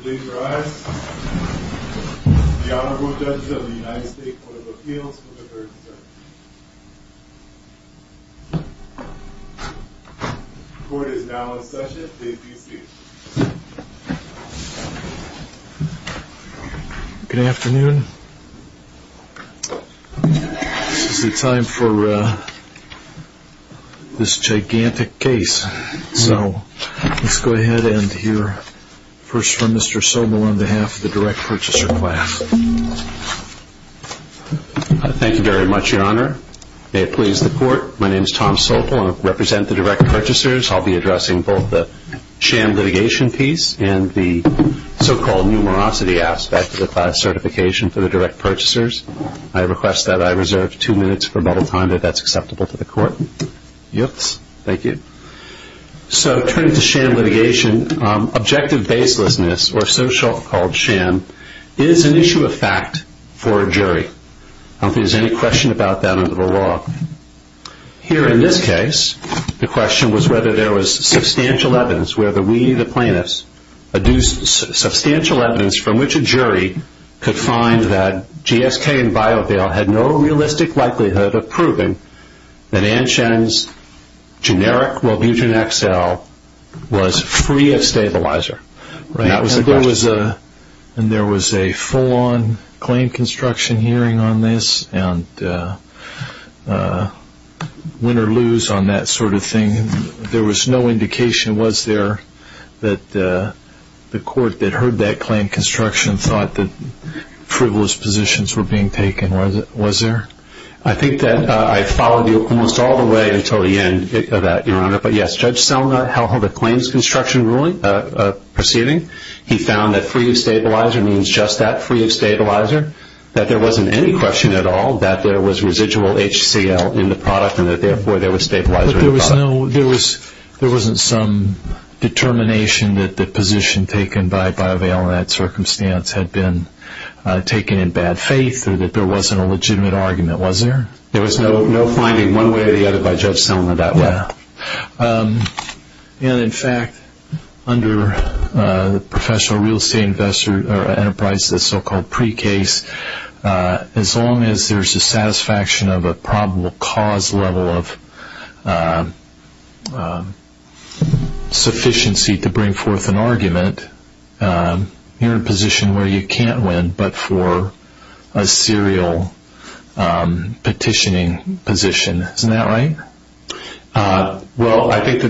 Please rise. The Honorable Judge of the United States Court of Appeals, Mr. Hurston. Court is now in session. Please be seated. Good afternoon. It is time for this gigantic case. So let's go ahead and hear first from Mr. Sobel on behalf of the direct purchaser class. Thank you very much, Your Honor. May it please the Court. My name is Tom Sobel. I represent the direct purchasers. I'll be addressing both the sham litigation piece and the so-called numerosity aspect of the class certification for the direct purchasers. I request that I reserve two minutes for a moment of time if that's acceptable to the Court. Yes. Thank you. So turning to sham litigation, objective baselessness, or so-called sham, is an issue of fact for a jury. Is there any question about that under the law? No. Here in this case, the question was whether there was substantial evidence, whether we, the plaintiffs, adduced substantial evidence from which a jury could find that GSK and Biodale had no realistic likelihood of proving that Ann Shen's generic Wellbutrin XL was free of stabilizer. And there was a full-on claim construction hearing on this and win or lose on that sort of thing. There was no indication, was there, that the Court that heard that claim construction thought that frivolous positions were being taken? Was there? I think that I followed you almost all the way until the end of that, Your Honor. But, yes, Judge Stelner, how the claims construction proceeding, he found that free of stabilizer means just that free of stabilizer, that there wasn't any question at all that there was residual HCL in the product and that, therefore, there was stabilizer in the product. There wasn't some determination that the position taken by Biodale in that circumstance had been taken in bad faith or that there wasn't a legitimate argument, was there? There was no finding one way or the other by Judge Stelner that way. And, in fact, under professional real estate investor enterprise, the so-called pre-case, as long as there's a satisfaction of a probable cause level of sufficiency to bring forth an argument, you're in a position where you can't win but for a serial petitioning position. Isn't that right? Well, I think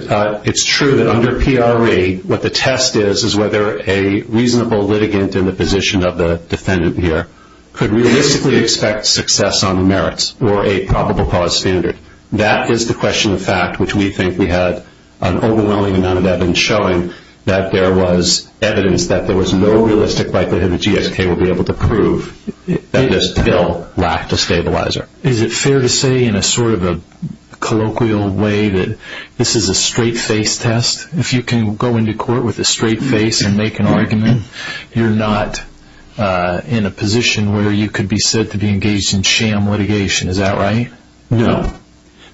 it's true that under PRE, what the test is is whether a reasonable litigant in the position of the defendant here could realistically expect success on the merits or a probable cause standard. That is the question of fact which we think we have an overwhelming amount of evidence showing that there was evidence that there was no realistic likelihood that the GSK would be able to prove that there still lacked a stabilizer. Is it fair to say in a sort of a colloquial way that this is a straight-faced test? If you can go into court with a straight face and make an argument, you're not in a position where you could be said to be engaged in sham litigation. Is that right? No.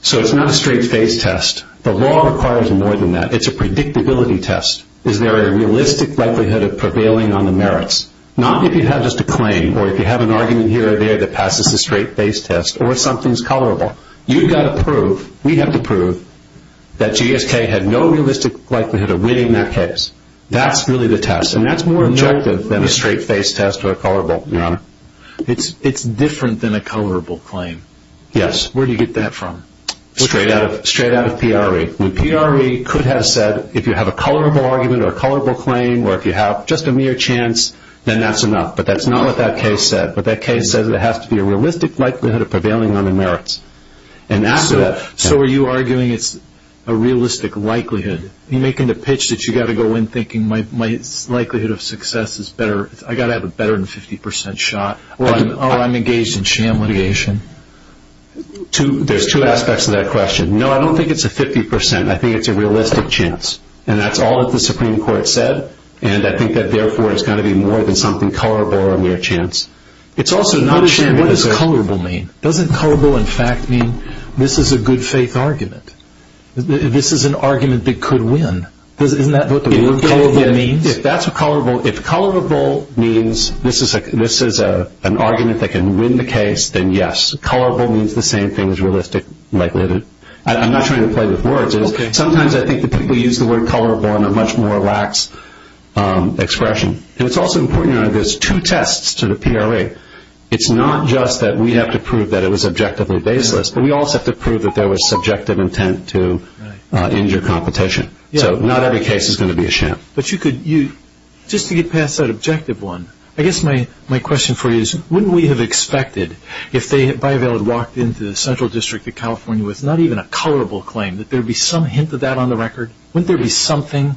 So it's not a straight-faced test. The law requires more than that. It's a predictability test. Is there a realistic likelihood of prevailing on the merits? Not if you have just a claim or if you have an argument here or there that passes the straight-faced test or something's colorable. You've got to prove, we have to prove, that GSK had no realistic likelihood of winning that case. That's really the test. And that's more objective than a straight-faced test or a colorable, Your Honor. It's different than a colorable claim. Yes. Where do you get that from? Straight out of PRE. The PRE could have said if you have a colorable argument or a colorable claim or if you have just a mere chance, then that's enough. But that's not what that case said. But that case said there has to be a realistic likelihood of prevailing on the merits. And after that, so are you arguing it's a realistic likelihood? You're making the pitch that you've got to go in thinking my likelihood of success is better. I've got to have a better than 50% shot. Or I'm engaged in sham litigation. There's two aspects to that question. No, I don't think it's a 50%. I think it's a realistic chance. And that's all that the Supreme Court said. And I think that, therefore, it's got to be more than something colorable or a mere chance. It's also not a sham litigation. What does colorable mean? Doesn't colorable, in fact, mean this is a good fake argument? This is an argument that could win. Isn't that what the word colorable means? If that's a colorable, if colorable means this is an argument that can win the case, then yes. Colorable means the same thing as realistic likelihood. I'm not trying to play with words. Sometimes I think people use the word colorable in a much more lax expression. And it's also important to know there's two tests to the PRE. It's not just that we have to prove that it was objectively baseless, but we also have to prove that there was subjective intent to injure competition. So not every case is going to be a sham. But just to get past that objective one, I guess my question for you is wouldn't we have expected, if Bayh-Vale had walked into the Central District of California with not even a colorable claim, that there would be some hint of that on the record? Wouldn't there be something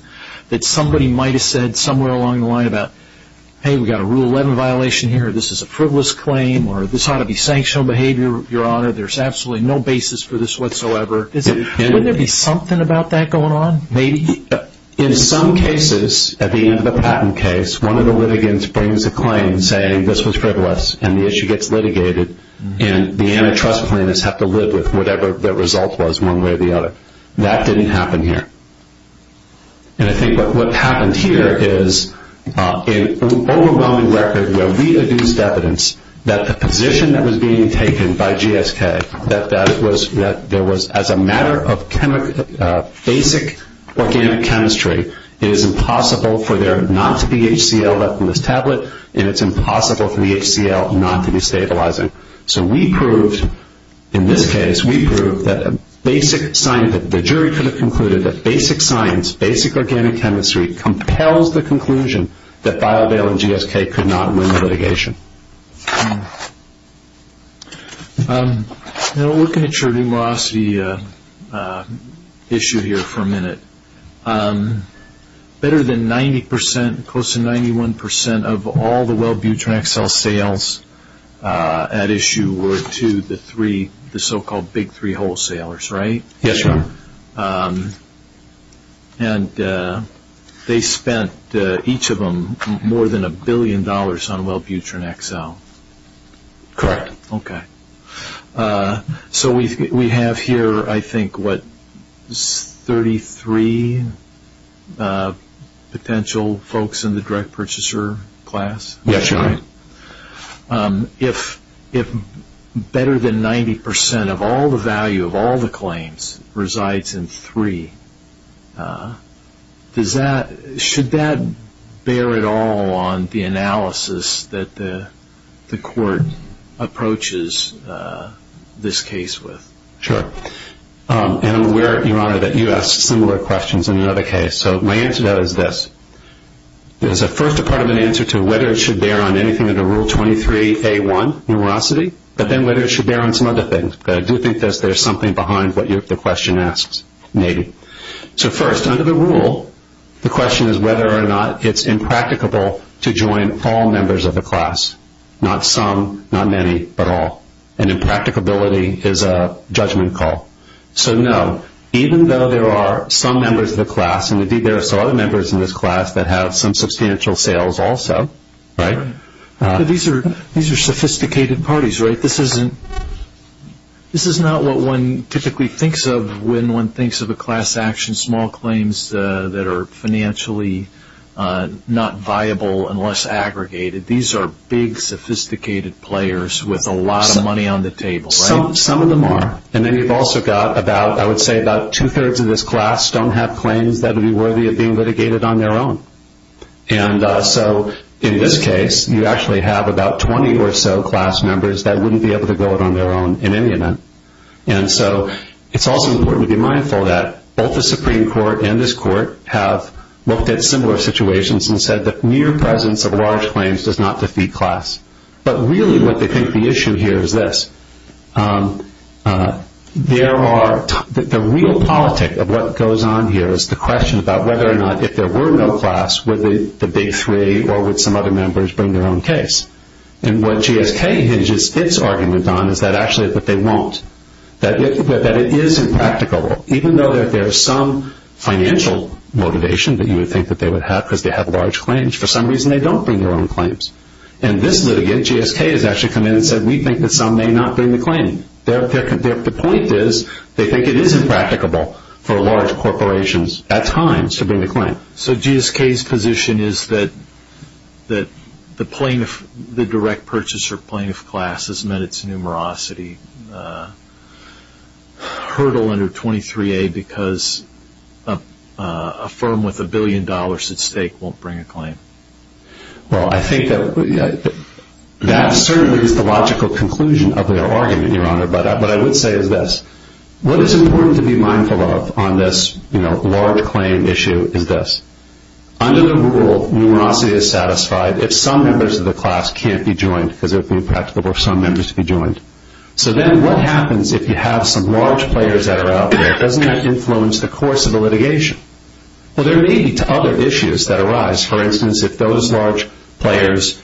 that somebody might have said somewhere along the line about, hey, we've got a Rule 11 violation here, this is a frivolous claim, or this ought to be sanctioned behavior, Your Honor, there's absolutely no basis for this whatsoever. Wouldn't there be something about that going on? Maybe. In some cases, at the end of the patent case, one of the litigants brings a claim saying this was frivolous and the issue gets litigated and the antitrust plaintiffs have to live with whatever the result was one way or the other. That didn't happen here. And I think that what happened here is an overwhelming record where we've abused evidence that the position that was being taken by GSK that there was, as a matter of basic organic chemistry, it is impossible for there not to be HDL left in this tablet and it's impossible for the HDL not to be stabilizing. So we proved, in this case, we proved that the jury could have concluded that basic science, basic organic chemistry compels the conclusion that filed bail in GSK could not ruin litigation. Now, looking at your velocity issue here for a minute, better than 90%, close to 91% of all the well-viewed track sales at issue were to the three, the so-called big three wholesalers, right? Yes, sir. And they spent, each of them, more than a billion dollars on Wellbutrin XL. Correct. Okay. So we have here, I think, what, 33 potential folks in the direct purchaser class? Yes, sir. If better than 90% of all the value of all the claims resides in three, does that, should that bear at all on the analysis that the court approaches this case with? Sure. And I'm aware, Your Honor, that you asked similar questions in another case. So my answer to that is this. There's a first-department answer to whether it should bear on anything under Rule 23A1, numerosity, but then whether it should bear on some other things. But I do think that there's something behind what the question asks, maybe. So first, under the rule, the question is whether or not it's impracticable to join all members of the class, not some, not many, but all. And impracticability is a judgment call. So, no, even though there are some members of the class, and indeed there are some other members in this class that have some substantial sales also, right? These are sophisticated parties, right? This is not what one typically thinks of when one thinks of a class action, small claims that are financially not viable unless aggregated. These are big, sophisticated players with a lot of money on the table, right? Some of them are. And then we've also got about, I would say, about two-thirds of this class don't have claims that would be worthy of being litigated on their own. And so in this case, you actually have about 20 or so class members that wouldn't be able to go it on their own in any event. And so it's also important to be mindful that both the Supreme Court and this court have looked at similar situations and said the mere presence of large claims does not defeat class. But really what I think the issue here is this. The real politic of what goes on here is the question about whether or not if there were no class, would the big three or would some other members bring their own case? And what GSK hinges its argument on is that actually they won't, that it is impracticable, even though there is some financial motivation that you would think that they would have because they have large claims. For some reason, they don't bring their own claims. And this litigant, GSK, has actually come in and said we think that some may not bring the claim. The point is they think it is impracticable for large corporations at times to bring the claim. So GSK's position is that the direct purchase or plaintiff class has met its numerosity hurdle under 23A because a firm with a billion dollars at stake won't bring a claim. Well, I think that certainly is the logical conclusion of their argument, Your Honor. But what I would say is this. What is important to be mindful of on this large claim issue is this. Under the rule, numerosity is satisfied if some members of the class can't be joined because it is impracticable for some members to be joined. So then what happens if you have some large players that are out there? Doesn't that influence the course of the litigation? Well, there may be other issues that arise. For instance, if those large players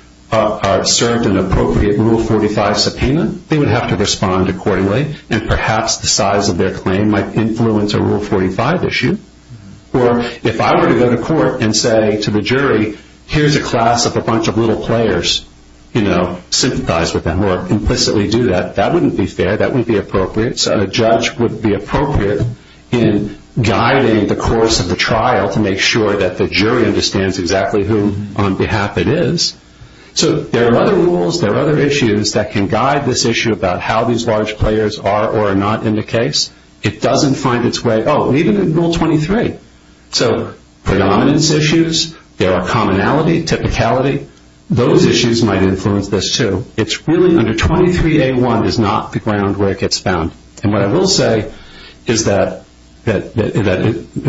served an appropriate Rule 45 subpoena, they would have to respond accordingly, and perhaps the size of their claim might influence a Rule 45 issue. Or if I were to go to court and say to the jury, here's a class of a bunch of little players, you know, sympathize with them or implicitly do that, that wouldn't be fair. That wouldn't be appropriate. A judge wouldn't be appropriate in guiding the course of the trial to make sure that the jury understands exactly who on behalf it is. So there are other rules, there are other issues that can guide this issue about how these large players are or are not in the case. It doesn't find its way, oh, even in Rule 23. So predominance issues, there are commonality, typicality. Those issues might influence this too. It's really under 23A1 is not the ground where it gets found. And what I will say is that,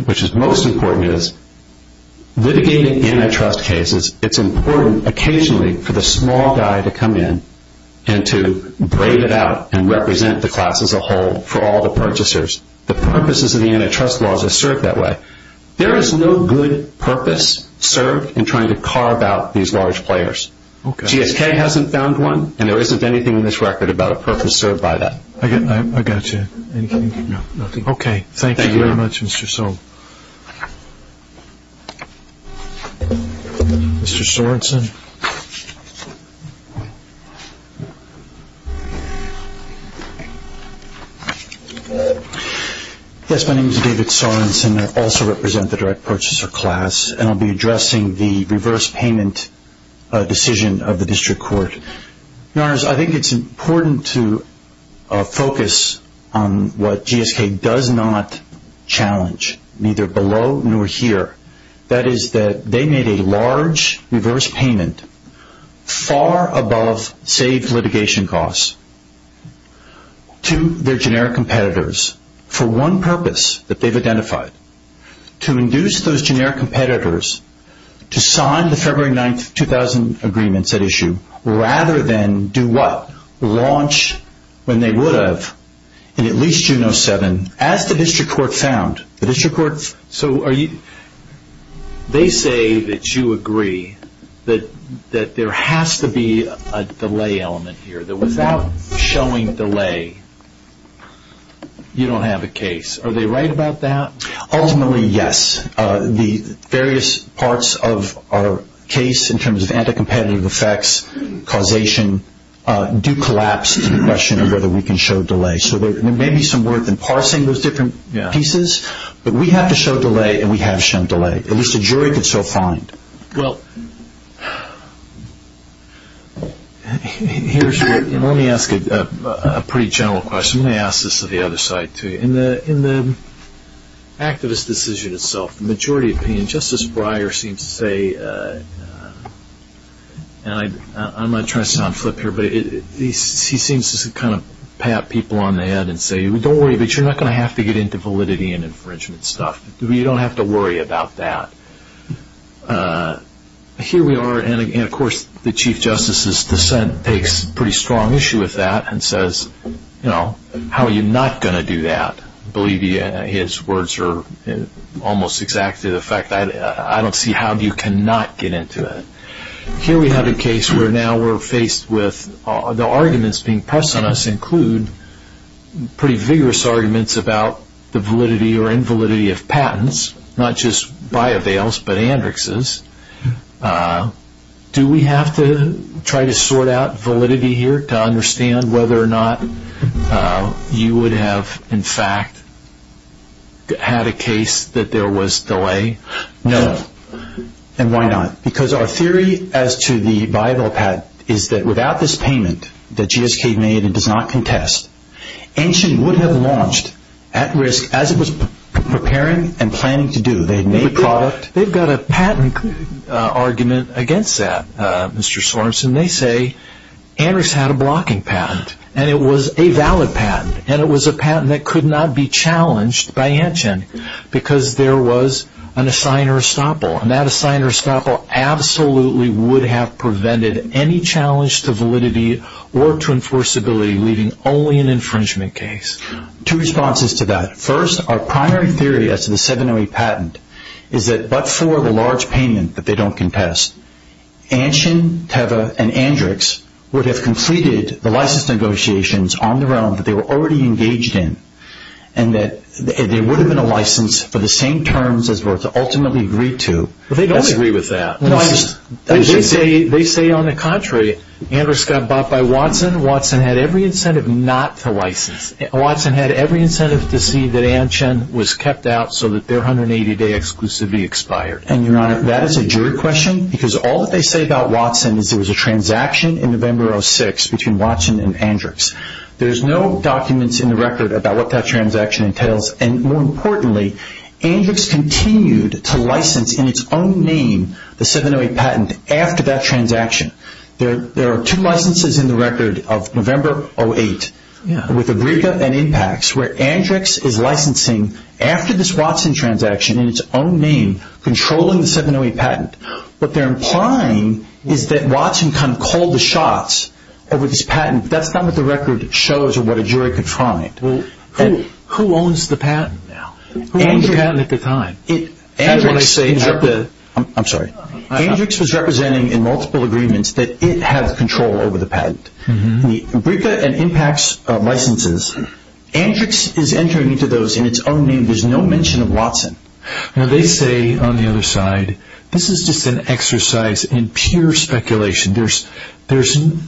which is most important, is litigating antitrust cases, it's important occasionally for the small guy to come in and to break it out and represent the class as a whole for all the purchasers. The purposes of the antitrust laws are served that way. There is no good purpose served in trying to carve out these large players. GSK hasn't found one and there isn't anything in this record about a purpose served by that. I got you. Okay. Thank you very much, Mr. Sobel. Mr. Sorensen. Yes, my name is David Sorensen. I also represent the direct purchaser class and I'll be addressing the reverse payment decision of the district court. Your Honors, I think it's important to focus on what GSK does not challenge, neither below nor here. That is that they made a large reverse payment far above saved litigation costs to their generic competitors for one purpose that they've identified. To induce those generic competitors to sign the February 9, 2000 agreements at issue, rather than do what? Launch, when they would have, in at least June of 2007, as the district court found. The district court, so are you, they say that you agree that there has to be a delay element here. That without showing delay, you don't have a case. Are they right about that? Ultimately, yes. The various parts of our case in terms of anti-competitive effects, causation, do collapse to the question of whether we can show delay. So there may be some work in parsing those different pieces, but we have to show delay and we have shown delay. At least a jury can still find. Well, let me ask a pretty general question. Let me ask this to the other side too. In the activist decision itself, the majority opinion, Justice Breyer seems to say, and I'm not trying to sit on flip here, but he seems to kind of pat people on the head and say, don't worry, but you're not going to have to get into validity and infringement stuff. You don't have to worry about that. Here we are, and, of course, the Chief Justice's dissent takes a pretty strong issue with that and says, you know, how are you not going to do that? I believe his words are almost exactly the fact. I don't see how you cannot get into it. Here we have a case where now we're faced with the arguments being pressed on us include pretty vigorous arguments about the validity or invalidity of patents, not just buy-avails, but androxes. Do we have to try to sort out validity here to understand whether or not you would have, in fact, had a case that there was delay? No. And why not? Because our theory as to the buy-avail patent is that without this payment that GHK made and does not contest, Antgen wouldn't have launched at risk as it was preparing and planning to do. They've got a patent argument against that, Mr. Sorensen. They say androx had a blocking patent, and it was a valid patent, and it was a patent that could not be challenged by Antgen because there was an assigner estoppel, and that assigner estoppel absolutely would have prevented any challenge to validity or to enforceability, leaving only an infringement case. Two responses to that. First, our primary theory as to the 708 patent is that but for the large payment that they don't contest, Antgen, Teva, and androx would have completed the license negotiations on the realm that they were already engaged in and that there would have been a license for the same terms as was ultimately agreed to. But they don't agree with that. They say, on the contrary, androx got bought by Watson. Watson had every incentive not to license. Watson had every incentive to see that Antgen was kept out so that their 180-day exclusivity expired. And, Your Honor, that is a jury question because all that they say about Watson is there was a transaction in November of 2006 between Watson and androx. There's no documents in the record about what that transaction entails, and more importantly, androx continued to license in its own name the 708 patent after that transaction. There are two licenses in the record of November of 2008 with abriga and impacts where androx is licensing after this Watson transaction in its own name, controlling the 708 patent. What they're implying is that Watson kind of called the shots over this patent. And that's not what the record shows or what a jury can find. Who owns the patent now? Who owns the patent at the time? I'm sorry. Androx was representing in multiple agreements that it had control over the patent. The abriga and impacts licenses, androx is entering into those in its own name. There's no mention of Watson. Now they say on the other side, this is just an exercise in pure speculation. It's one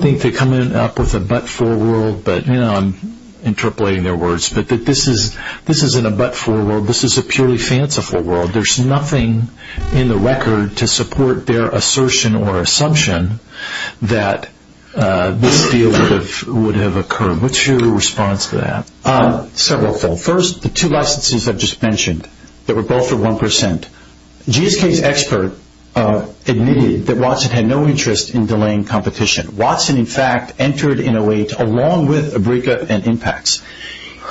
thing to come up with a but-for world, but, you know, I'm interpolating their words. But this isn't a but-for world. This is a purely fanciful world. There's nothing in the record to support their assertion or assumption that this deal would have occurred. What's your response to that? Severalfold. First, the two licenses I just mentioned that were both for 1%. GSK's expert admitted that Watson had no interest in delaying competition. Watson, in fact, entered in OH along with abriga and impacts.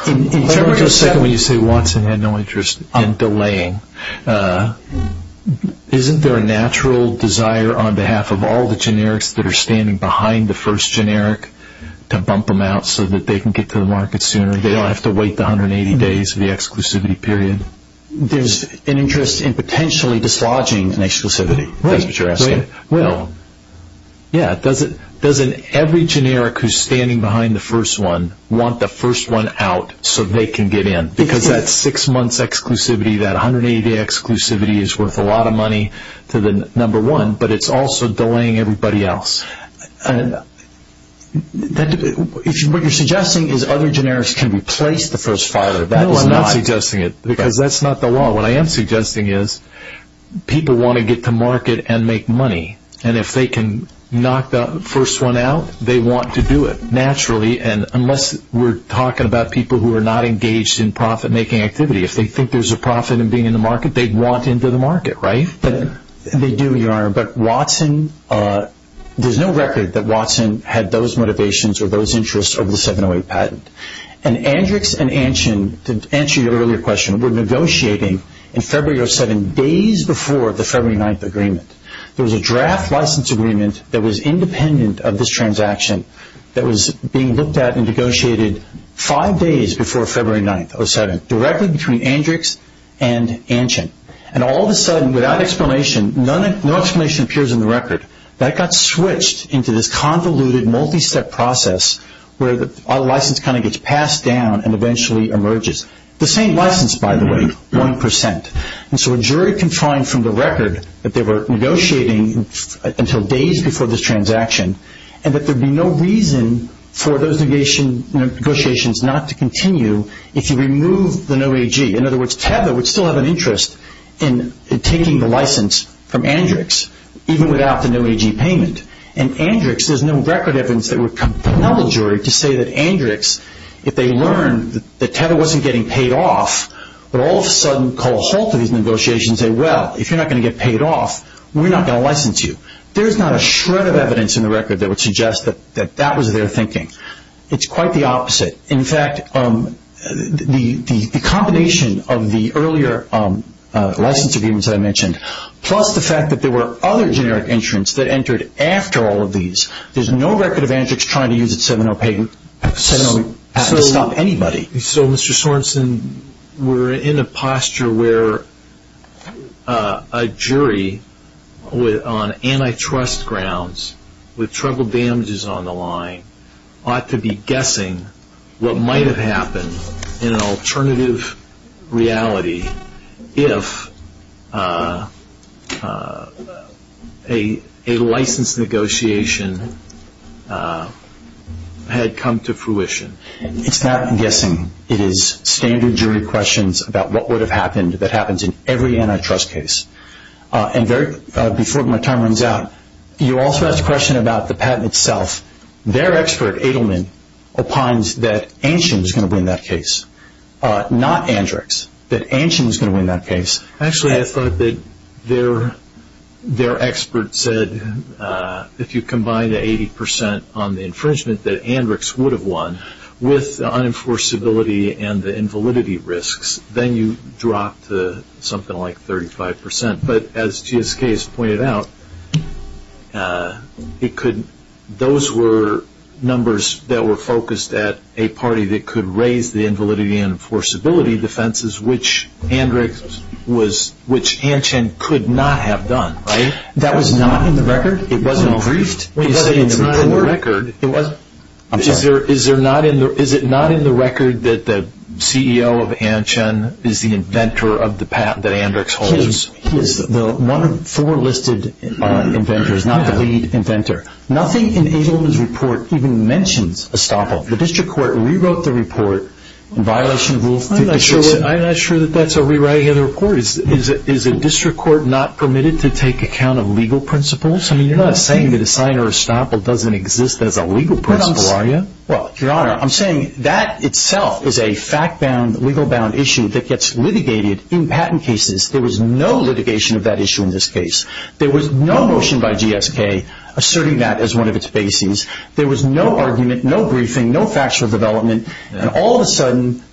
In terms of secondly, you say Watson had no interest in delaying. Isn't there a natural desire on behalf of all the generics that are standing behind the first generic to bump them out so that they can get to the market sooner and they don't have to wait the 180 days of the exclusivity period? There's an interest in potentially dislodging an exclusivity. That's what you're asking. Well, yeah. Doesn't every generic who's standing behind the first one want the first one out so they can get in? Because that six-month exclusivity, that 180-day exclusivity is worth a lot of money to the number one, but it's also delaying everybody else. What you're suggesting is other generics can replace the first five of that. No, I'm not suggesting it because that's not the law. What I am suggesting is people want to get to market and make money, and if they can knock the first one out, they want to do it naturally, and unless we're talking about people who are not engaged in profit-making activity, if they think there's a profit in being in the market, they'd want into the market, right? They do, Your Honor, but there's no record that Watson had those motivations or those interests over the 708 patent. And Andrix and Antion, to answer your earlier question, were negotiating in February of 2007 days before the February 9th agreement. There was a draft license agreement that was independent of this transaction that was being looked at and negotiated five days before February 9th, 2007, directly between Andrix and Antion. And all of a sudden, without explanation, no explanation appears in the record. That got switched into this convoluted, multi-step process where our license kind of gets passed down and eventually emerges. The same license, by the way, 1%. And so a jury can find from the record that they were negotiating until days before this transaction and that there'd be no reason for those negotiations not to continue if you remove the NOAAG. In other words, Tesla would still have an interest in taking the license from Andrix, even without the NOAAG payment. And Andrix, there's no record evidence that would compel a jury to say that Andrix, if they learned that Tesla wasn't getting paid off, would all of a sudden call a halt to these negotiations and say, well, if you're not going to get paid off, we're not going to license you. There's not a shred of evidence in the record that would suggest that that was their thinking. It's quite the opposite. Plus the fact that there were other generic entrants that entered after all of these. There's no record of Andrix trying to use its 7-0 payment. 7-0 doesn't stop anybody. So, Mr. Sorensen, we're in a posture where a jury on antitrust grounds, with troubled damages on the line, ought to be guessing what might have happened in an alternative reality if a license negotiation had come to fruition. It's not guessing. It is standard jury questions about what would have happened that happens in every antitrust case. Before my time runs out, you also asked a question about the patent itself. Their expert, Edelman, opines that Ancient is going to win that case, not Andrix. That Ancient is going to win that case. Actually, I thought that their expert said if you combine the 80% on the infringement that Andrix would have won with the unenforceability and the invalidity risks, then you drop to something like 35%. But as GSK has pointed out, those were numbers that were focused at a party that could raise the invalidity and enforceability defenses, which Ancient could not have done, right? That was not in the record? It wasn't approved? It wasn't in the record. I'm sorry. Is it not in the record that the CEO of Ancient is the inventor of the patent that Andrix holds? He is the number four listed inventor. He's not the lead inventor. Nothing in Edelman's report even mentions estoppel. The district court rewrote the report in violation of rules. I'm not sure that that's a rewriting of the report. Is a district court not permitted to take account of legal principles? You're not saying that the signer of estoppel doesn't exist as a legal principle, are you? Well, Your Honor, I'm saying that itself is a fact-bound, legal-bound issue that gets litigated in patent cases. There was no litigation of that issue in this case. There was no motion by GSK asserting that as one of its basings. There was no argument, no briefing, no factual development. And all of a sudden,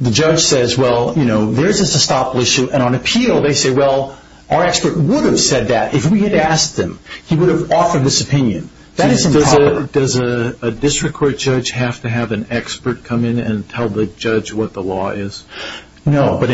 the judge says, well, you know, there's this estoppel issue. And on appeal, they say, well, our expert would have said that if we had asked him. He would have offered this opinion. Does a district court judge have to have an expert come in and tell the judge what the law is? No, but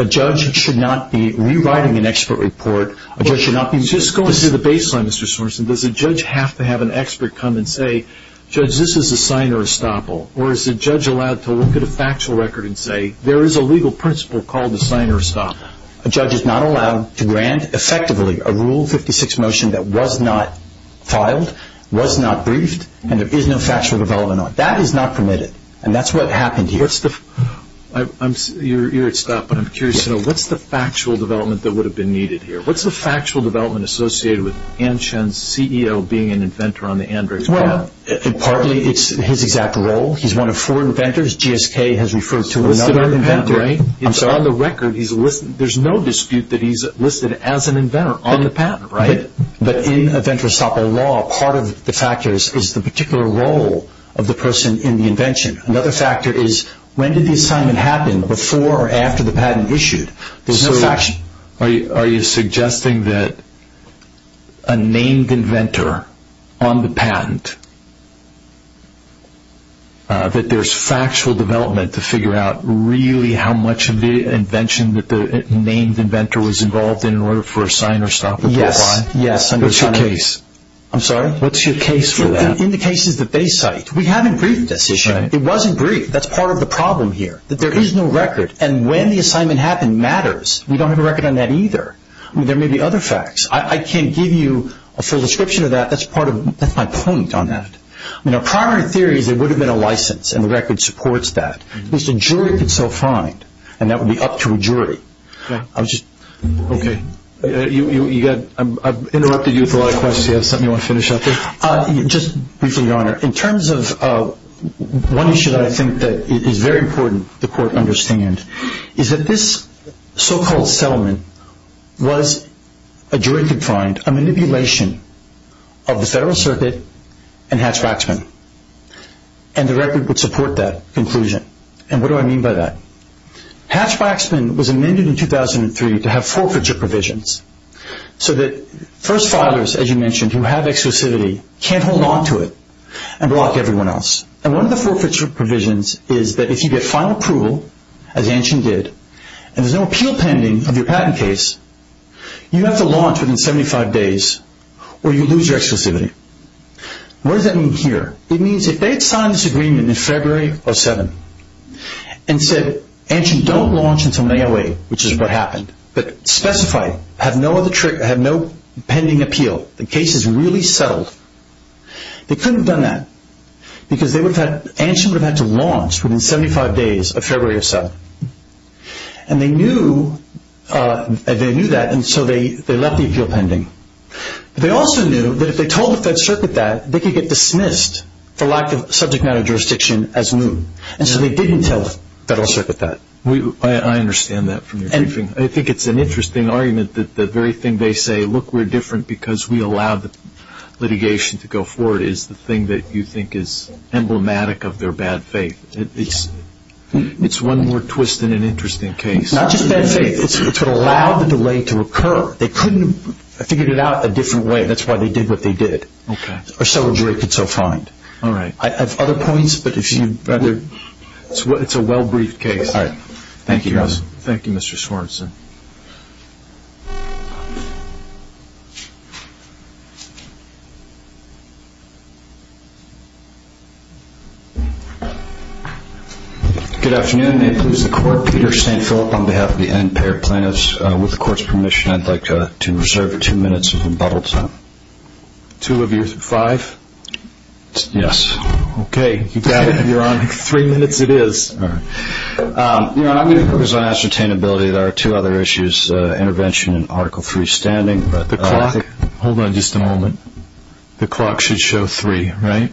a judge should not be rewriting an expert report. It should not be just going through the baseline, Mr. Sorensen. Does a judge have to have an expert come and say, judge, this is the signer of estoppel? Or is a judge allowed to look at a factual record and say, there is a legal principle called the signer of estoppel? A judge is not allowed to grant, effectively, a Rule 56 motion that was not filed, was not briefed, and there is no factual development on it. That is not permitted, and that's what happened here. You're at stop, but I'm curious to know, what's the factual development that would have been needed here? What's the factual development associated with Ann Chen's CEO being an inventor on the Android? Well, partly it's his exact role. He's one of four inventors. GSK has referred to another inventor. On the record, there's no dispute that he's listed as an inventor on the patent, right? But in a venture estoppel law, part of the factors is the particular role of the person in the invention. Another factor is, when did the assignment happen, before or after the patent was issued? Are you suggesting that a named inventor on the patent, that there's factual development to figure out, really, how much of the invention that the named inventor was involved in in order for a signer of estoppel to apply? Yes. What's your case? I'm sorry? What's your case for that? In the case of the Bay site, we haven't briefed this issue. It wasn't briefed. That's part of the problem here, that there is no record. And when the assignment happened matters. We don't have a record on that either. There may be other facts. I can't give you a full description of that. That's my point on that. Prior to theory, there would have been a license, and the record supports that. At least a jury could still find, and that would be up to a jury. Right. Okay. I've interrupted you with a lot of questions. You have something you want to finish up? Just briefly, Your Honor. In terms of one issue that I think is very important for the court to understand, is that this so-called settlement was a jury could find a manipulation of the Federal Circuit and Hatch-Waxman, and the record would support that conclusion. And what do I mean by that? Hatch-Waxman was amended in 2003 to have forfeiture provisions so that first filers, as you mentioned, who have exclusivity can't hold on to it and block everyone else. And one of the forfeiture provisions is that if you get final approval, as Antion did, and there's no appeal pending on your patent case, you have to launch within 75 days or you lose your exclusivity. What does that mean here? It means if they had signed this agreement in February of 2007 and said, Antion, don't launch until May of 2008, which is what happened, but specify, have no pending appeal, the case is really settled, they couldn't have done that because Antion would have had to launch within 75 days of February of 2007. And they knew that and so they left the appeal pending. They also knew that if they told the Federal Circuit that, they could get dismissed for lack of subject matter jurisdiction as new. And so they didn't tell the Federal Circuit that. I understand that from your briefing. I think it's an interesting argument that the very thing they say, look, we're different because we allowed the litigation to go forward, is the thing that you think is emblematic of their bad faith. It's one more twist in an interesting case. Not just bad faith, it's what allowed the delay to occur. They couldn't have figured it out a different way. That's why they did what they did, or celebrated so fine. I have other points, but it's a well-briefed case. Thank you, guys. Thank you, Mr. Schwarzenegger. Good afternoon. My name is Peter Santoro on behalf of the Ampair Plans. With the Court's permission, I'd like to reserve two minutes of rebuttal time. Two of you, five? Yes. Okay. You got it. You're on. Three minutes it is. All right. There are two other issues, intervention and article three standing. Hold on just a moment. The clock should show three, right?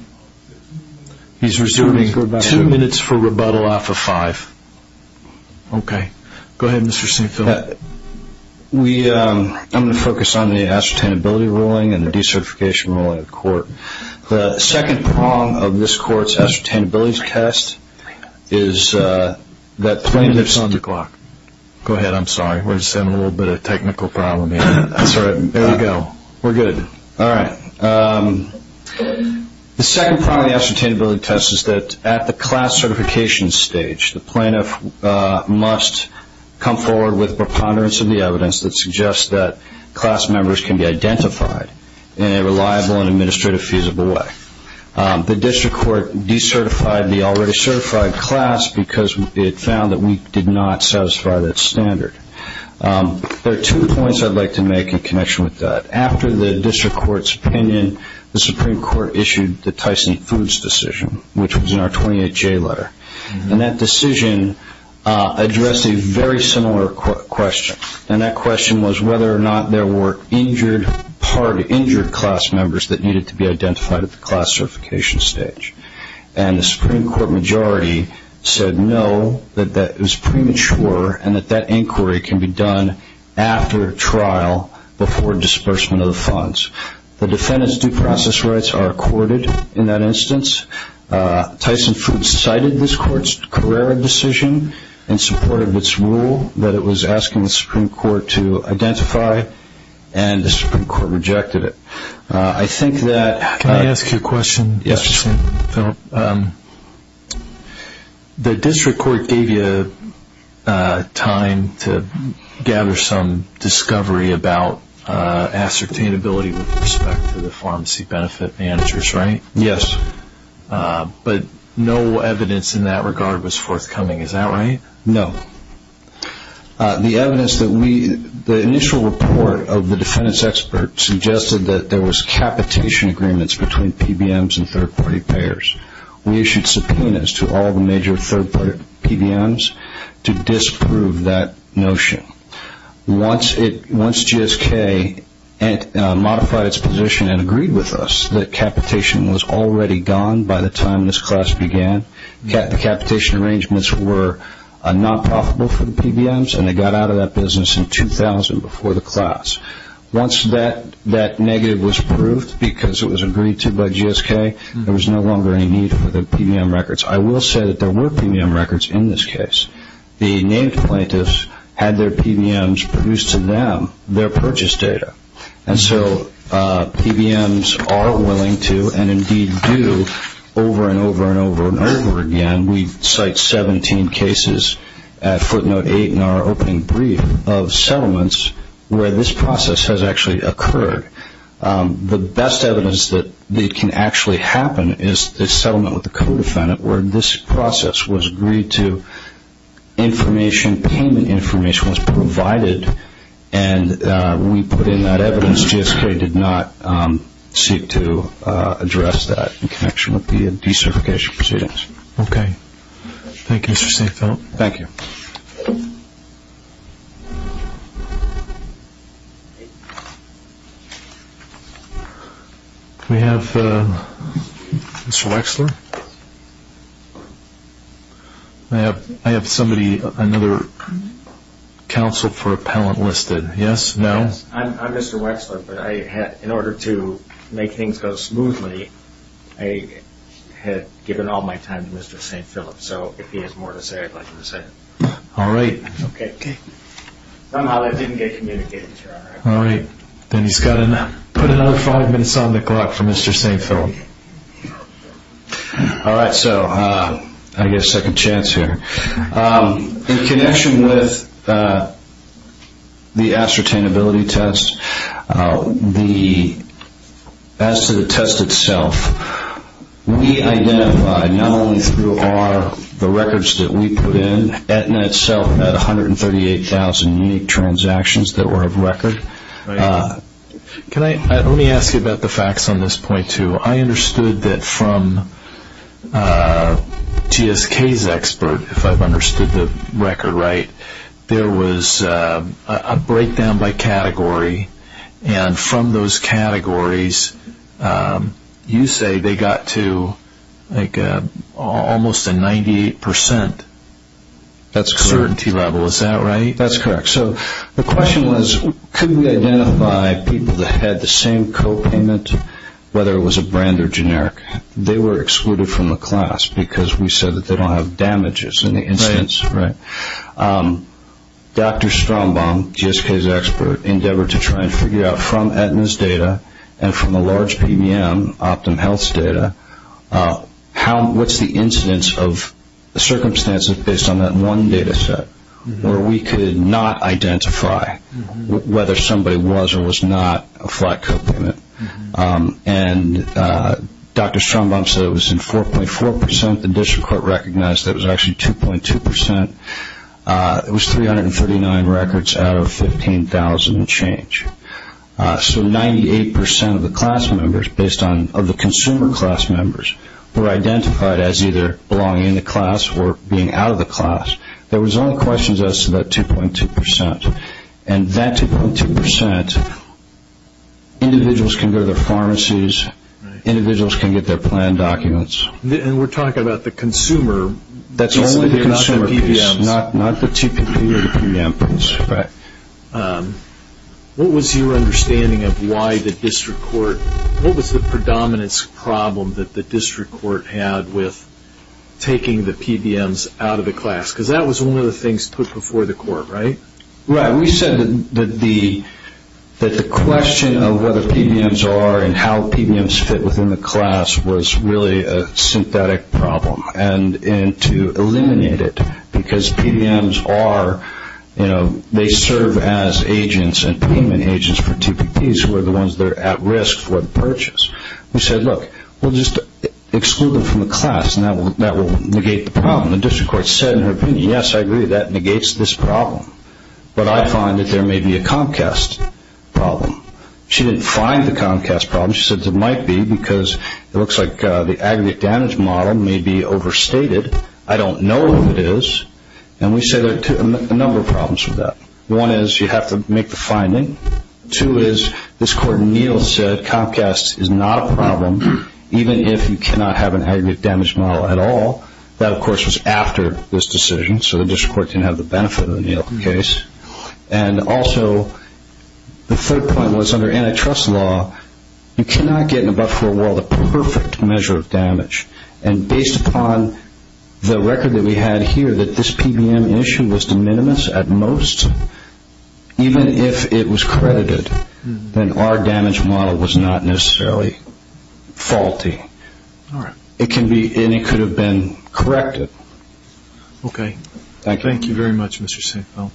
He's reserving two minutes for rebuttal off of five. Okay. Go ahead, Mr. Schwarzenegger. I'm going to focus on the ascertainability ruling and the decertification ruling of the Court. The second prong of this Court's ascertainability test is that plaintiff's on the clock. Go ahead. I'm sorry. We're just having a little bit of a technical problem here. I'm sorry. There we go. We're good. All right. The second prong of the ascertainability test is that at the class certification stage, the plaintiff must come forward with preponderance of the evidence that suggests that class members can be identified in a reliable and administrative feasible way. The District Court decertified the already certified class because it found that we did not satisfy that standard. There are two points I'd like to make in connection with that. After the District Court's opinion, the Supreme Court issued the Tyson-Hoods decision, which was in our 28-J letter. And that decision addressed a very similar question, and that question was whether or not there were part injured class members that needed to be identified at the class certification stage. And the Supreme Court majority said no, that it was premature, and that that inquiry can be done after a trial before disbursement of the funds. The defendant's due process rights are accorded in that instance. Tyson-Hoods cited this court's Carrera decision and supported this rule that it was asking the Supreme Court to identify, and the Supreme Court rejected it. Can I ask you a question? Yes. The District Court gave you time to gather some discovery about ascertainability with respect to the pharmacy benefit managers, right? Yes, but no evidence in that regard was forthcoming. Is that right? No. The initial report of the defendant's expert suggested that there was capitation agreements between PBMs and third-party payers. We issued subpoenas to all the major third-party PBMs to disprove that notion. Once GSK modified its position and agreed with us that capitation was already gone by the time this class began, the capitation arrangements were not profitable for the PBMs, and they got out of that business in 2000 before the class. Once that negative was proved because it was agreed to by GSK, there was no longer any need for the PBM records. I will say that there were PBM records in this case. The native plaintiffs had their PBMs produce to them their purchase data, and so PBMs are willing to and indeed do over and over and over and over again. We cite 17 cases at footnote 8 in our opening brief of settlements where this process has actually occurred. The best evidence that it can actually happen is the settlement with the co-defendant, where this process was agreed to, information, payment information was provided, and when we put in that evidence, GSK did not seek to address that in connection with the decertification proceedings. Okay. Thank you, Mr. Steinfeld. Thank you. Do we have Mr. Wexler? I have somebody, another counsel for appellant listed. Yes? No? I'm Mr. Wexler, but in order to make things go smoothly, I had given all my time to Mr. Steinfeld, so if he has more to say, I'd like him to say it. All right. Okay. Somehow that didn't get communicated to her. All right. Then he's got to put another five minutes on the clock for Mr. Steinfeld. All right. So I get a second chance here. In connection with the ascertainability test, as to the test itself, we identified not only who are the records that we put in, but Etna itself had 138,000 unique transactions that were of record. Let me ask you about the facts on this point, too. I understood that from GSK's expert, if I've understood the record right, there was a breakdown by category, and from those categories, you say they got to like almost a 98% certainty level. Is that right? That's correct. So the question was, couldn't we identify people that had the same copayment, whether it was a brand or generic? They were excluded from the class because we said that they don't have damages in the instance. Right. Dr. Strombaum, GSK's expert, endeavored to try and figure out from Etna's data and from the large PBM, OptumHealth's data, what's the incidence of circumstances based on that one data set where we could not identify whether somebody was or was not a flat copayment. And Dr. Strombaum said it was in 4.4%. The District Court recognized that it was actually 2.2%. It was 339 records out of 15,000 to change. So 98% of the class members, based on the consumer class members, were identified as either belonging in the class or being out of the class. There was only questions as to about 2.2%. And that 2.2%, individuals can go to the pharmacies, individuals can get their plan documents. And we're talking about the consumer. That's only the consumer case, not the 2.2%. Right. What was your understanding of why the District Court, what was the predominance problem that the District Court had with taking the PBMs out of the class? Because that was one of the things put before the court, right? Right. We said that the question of whether PBMs are and how PBMs fit within the class was really a synthetic problem, and to eliminate it because PBMs are, you know, they serve as agents and payment agents for TPPs who are the ones that are at risk for the purchase. We said, look, we'll just exclude them from the class, and that will negate the problem. The District Court said in their opinion, yes, I agree, that negates this problem. But I find that there may be a Comcast problem. She didn't find the Comcast problem. She said there might be because it looks like the aggregate damage model may be overstated. I don't know what it is. And we said there are a number of problems with that. One is you have to make the finding. Two is this Court in Neal said Comcast is not a problem even if you cannot have an aggregate damage model at all. That, of course, was after this decision. So the District Court didn't have the benefit of the Neal case. And also the third point was under antitrust law, you cannot get in a buffer role the perfect measure of damage. And based upon the record that we had here that this PBM issue was de minimis at most, even if it was credited, then our damage model was not necessarily faulty. All right. And it could have been corrected. Okay. Thank you. Thank you very much, Mr. Sanko. All right.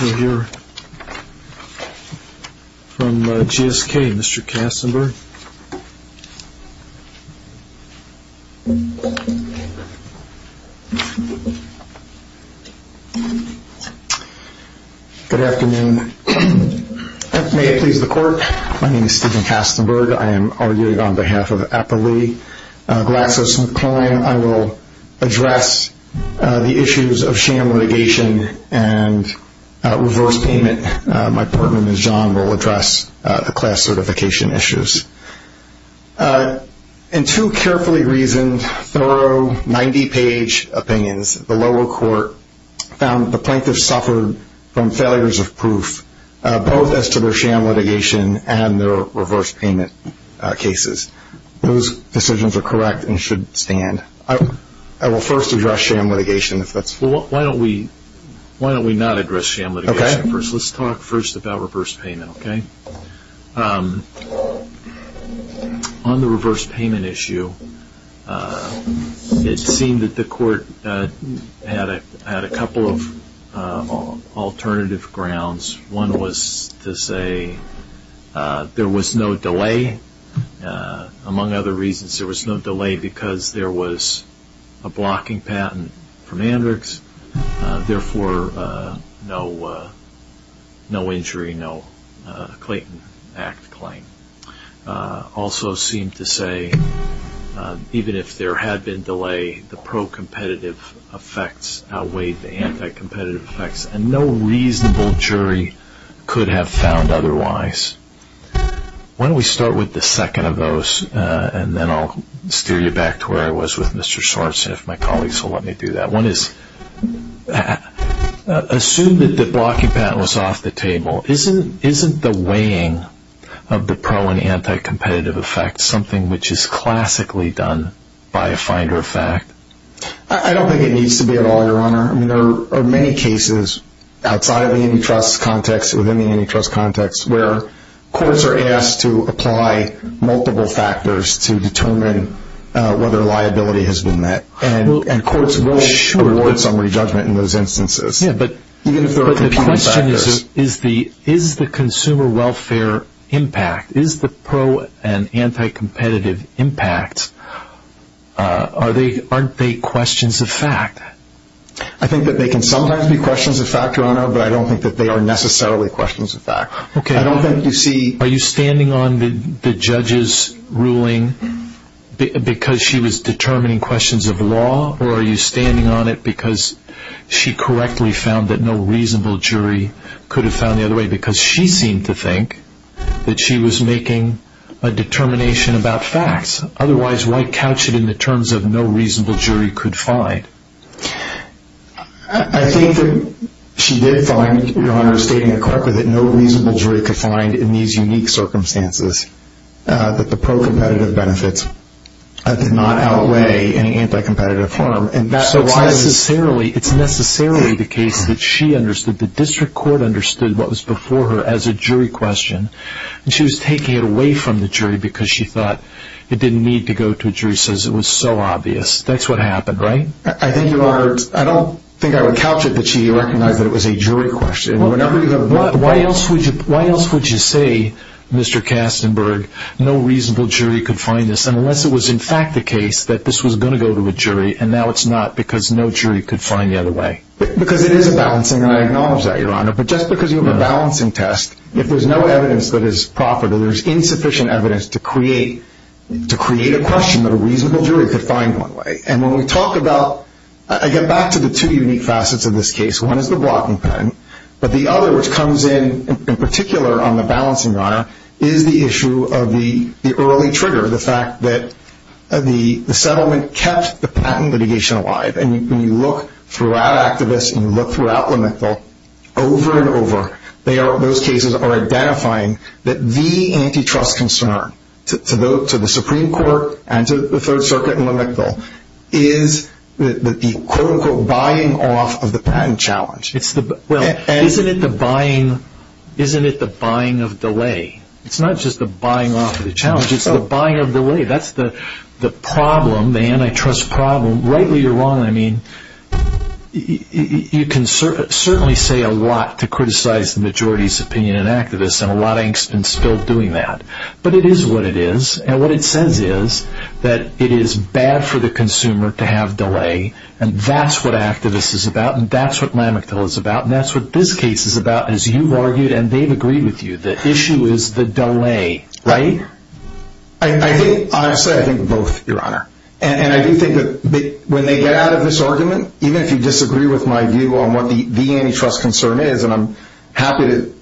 We'll hear from GSK, Mr. Kastenberg. Good afternoon. May it please the Court. My name is Stephen Kastenberg. I am argued on behalf of Applee Glaxus McClain. I will address the issues of sham litigation and resource payment. My partner, Ms. John, will address the class certification issues. In two carefully reasoned, thorough, 90-page opinions, the lower court found the plaintiffs suffered from failures of proof, both as to their sham litigation and their reverse payment cases. Those decisions are correct and should stand. I will first address sham litigation. Why don't we not address sham litigation first? Let's talk first about reverse payment, okay? On the reverse payment issue, it seemed that the court had a couple of alternative grounds. One was to say there was no delay. Among other reasons, there was no delay because there was a blocking patent from Andrews, therefore no injury, no Clayton Act claim. Also seemed to say even if there had been delay, the pro-competitive effects outweighed the anti-competitive effects, and no reasonable jury could have found otherwise. Why don't we start with the second of those, and then I'll steer you back to where I was with Mr. Schwartz and if my colleagues will let me do that. Assume that the blocking patent was off the table. Isn't the weighing of the pro- and anti-competitive effects something which is classically done by a finder of fact? I don't think it needs to be at all, Your Honor. There are many cases outside of the antitrust context or within the antitrust context where courts are asked to apply multiple factors to determine whether liability has been met, and courts will award some re-judgment in those instances. The question is, is the consumer welfare impact, is the pro- and anti-competitive impact, aren't they questions of fact? I think that they can sometimes be questions of fact, Your Honor, but I don't think that they are necessarily questions of fact. Are you standing on the judge's ruling because she was determining questions of law, or are you standing on it because she correctly found that no reasonable jury could have found the other way because she seemed to think that she was making a determination about fact. Otherwise, why couch it in the terms of no reasonable jury could find? I think that she did find, Your Honor, stating correctly that no reasonable jury could find in these unique circumstances, that the pro-competitive benefits did not outweigh any anti-competitive harm. It's necessarily the case that she understood, the district court understood what was before her as a jury question, and she was taking it away from the jury because she thought it didn't need to go to a jury, because it was so obvious. That's what happened, right? I don't think I would couch it that she recognized that it was a jury question. Why else would you say, Mr. Kastenberg, no reasonable jury could find this, unless it was in fact the case that this was going to go to a jury, and now it's not because no jury could find the other way? Because it is a balancing, and I acknowledge that, Your Honor, but just because you have a balancing test, if there's no evidence that is proper, that there's insufficient evidence to create a question that a reasonable jury could find one way. And when we talk about – I get back to the two unique facets of this case. One is the blocking patent, but the other, which comes in, in particular, on the balancing, Your Honor, is the issue of the early trigger, the fact that the settlement kept the patent litigation alive. And when you look throughout activists and you look throughout Lementhal, over and over, they are, in most cases, identifying that the antitrust concern to the Supreme Court and to the Third Circuit and Lementhal is the, quote-unquote, buying off of the patent challenge. Isn't it the buying of delay? It's not just the buying off of the challenge. It's the buying of delay. That's the problem, the antitrust problem. And rightly or wrongly, I mean, you can certainly say a lot to criticize the majority's opinion in activists and a lot of angst in still doing that. But it is what it is, and what it says is that it is bad for the consumer to have delay, and that's what activists is about, and that's what Lementhal is about, and that's what this case is about, as you've argued and they've agreed with you. The issue is the delay, right? I think, honestly, I think both, Your Honor. And I do think that when they get out of this argument, even if you disagree with my view on what the antitrust concern is, and I'm happy to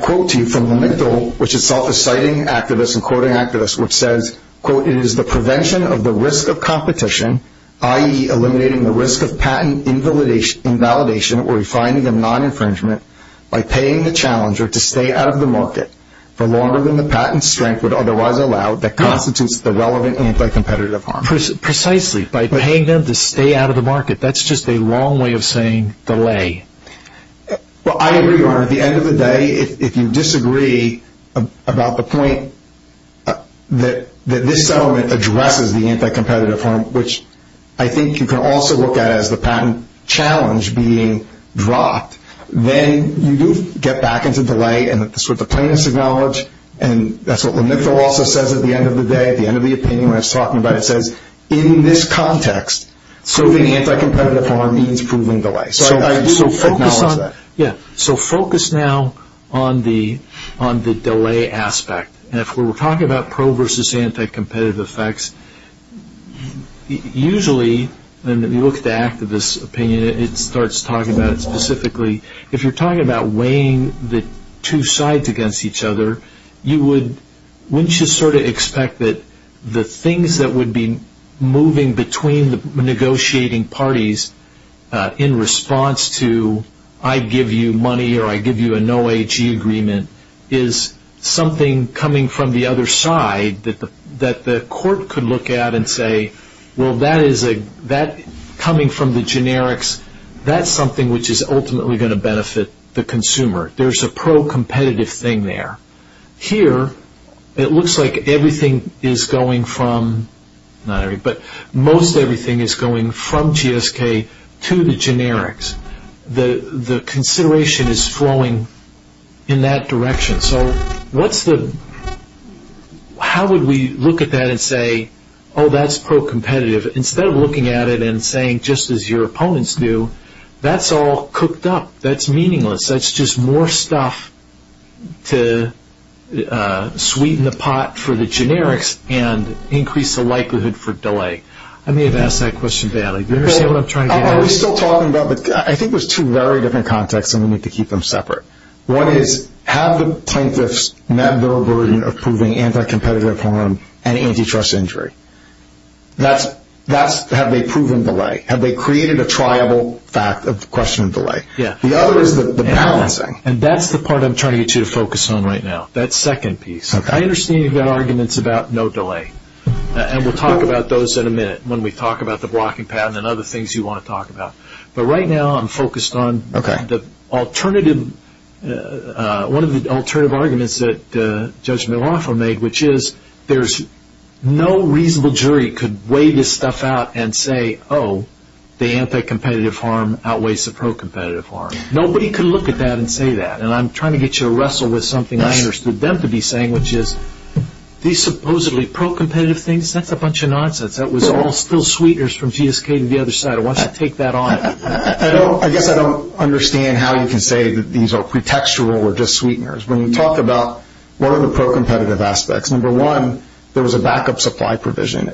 quote to you from Lementhal, which itself is citing activists and quoting activists, which says, quote, it is the prevention of the risk of competition, i.e., eliminating the risk of patent invalidation or refining of non-infringement by paying the challenger to stay out of the market for longer than the patent strength would otherwise allow that constitutes the relevant anti-competitive harm. Precisely, by paying them to stay out of the market. That's just a wrong way of saying delay. Well, I agree, Your Honor. At the end of the day, if you disagree about the point that this settlement addresses the anti-competitive harm, which I think you can also look at as the patent challenge being dropped, then you do get back into delay and the plaintiffs acknowledge, and that's what Lementhal also says at the end of the day, at the end of the opinion when it's talked about, it says, in this context, proving anti-competitive harm means proving delay. So I do acknowledge that. Yeah. So focus now on the delay aspect. And if we were talking about pro versus anti-competitive effects, usually when you look at the activist opinion, it starts talking about it specifically. If you're talking about weighing the two sides against each other, you would sort of expect that the things that would be moving between the negotiating parties in response to I give you money or I give you a no AG agreement is something coming from the other side that the court could look at and say, well, that coming from the generics, that's something which is ultimately going to benefit the consumer. There's a pro-competitive thing there. Here, it looks like everything is going from, not everything, but most everything is going from GSK to the generics. The consideration is flowing in that direction. So how would we look at that and say, oh, that's pro-competitive? Instead of looking at it and saying, just as your opponents do, that's all cooked up. That's meaningless. That's just more stuff to sweeten the pot for the generics and increase the likelihood for delay. I may have asked that question badly. I think it was two very different contexts, and we need to keep them separate. One is, have the plaintiffs met their version of proving anti-competitive harm and antitrust injury? Have they proven delay? Have they created a triable question of delay? The other is the balancing, and that's the part I'm trying to get you to focus on right now, that second piece. I understand your arguments about no delay, and we'll talk about those in a minute when we talk about the blocking pattern and other things you want to talk about. But right now I'm focused on one of the alternative arguments that Judge Malafa made, which is there's no reasonable jury could weigh this stuff out and say, oh, the anti-competitive harm outweighs the pro-competitive harm. Nobody could look at that and say that. And I'm trying to get you to wrestle with something I understood them to be saying, which is these supposedly pro-competitive things, that's a bunch of nonsense. That was all Phil Sweetner's from GSK on the other side. Why don't you take that on? I guess I don't understand how you can say that these are pretextual or just Sweetner's. When we talk about one of the pro-competitive aspects, number one, there was a backup supply provision.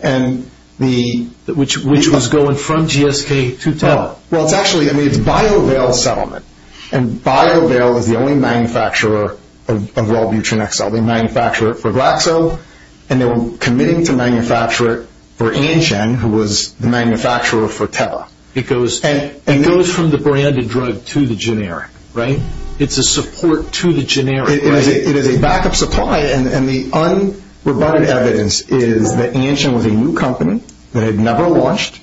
Which was going from GSK to TEL. Well, it's actually a BioVail settlement, and BioVail was the only manufacturer of wellbutrin XL. And they were committing to manufacture it for Antgen, who was the manufacturer for TEL. And it goes from the branded drug to the generic, right? It's a support to the generic. It is a backup supply, and the unrebutted evidence is that Antgen was a new company that had never launched,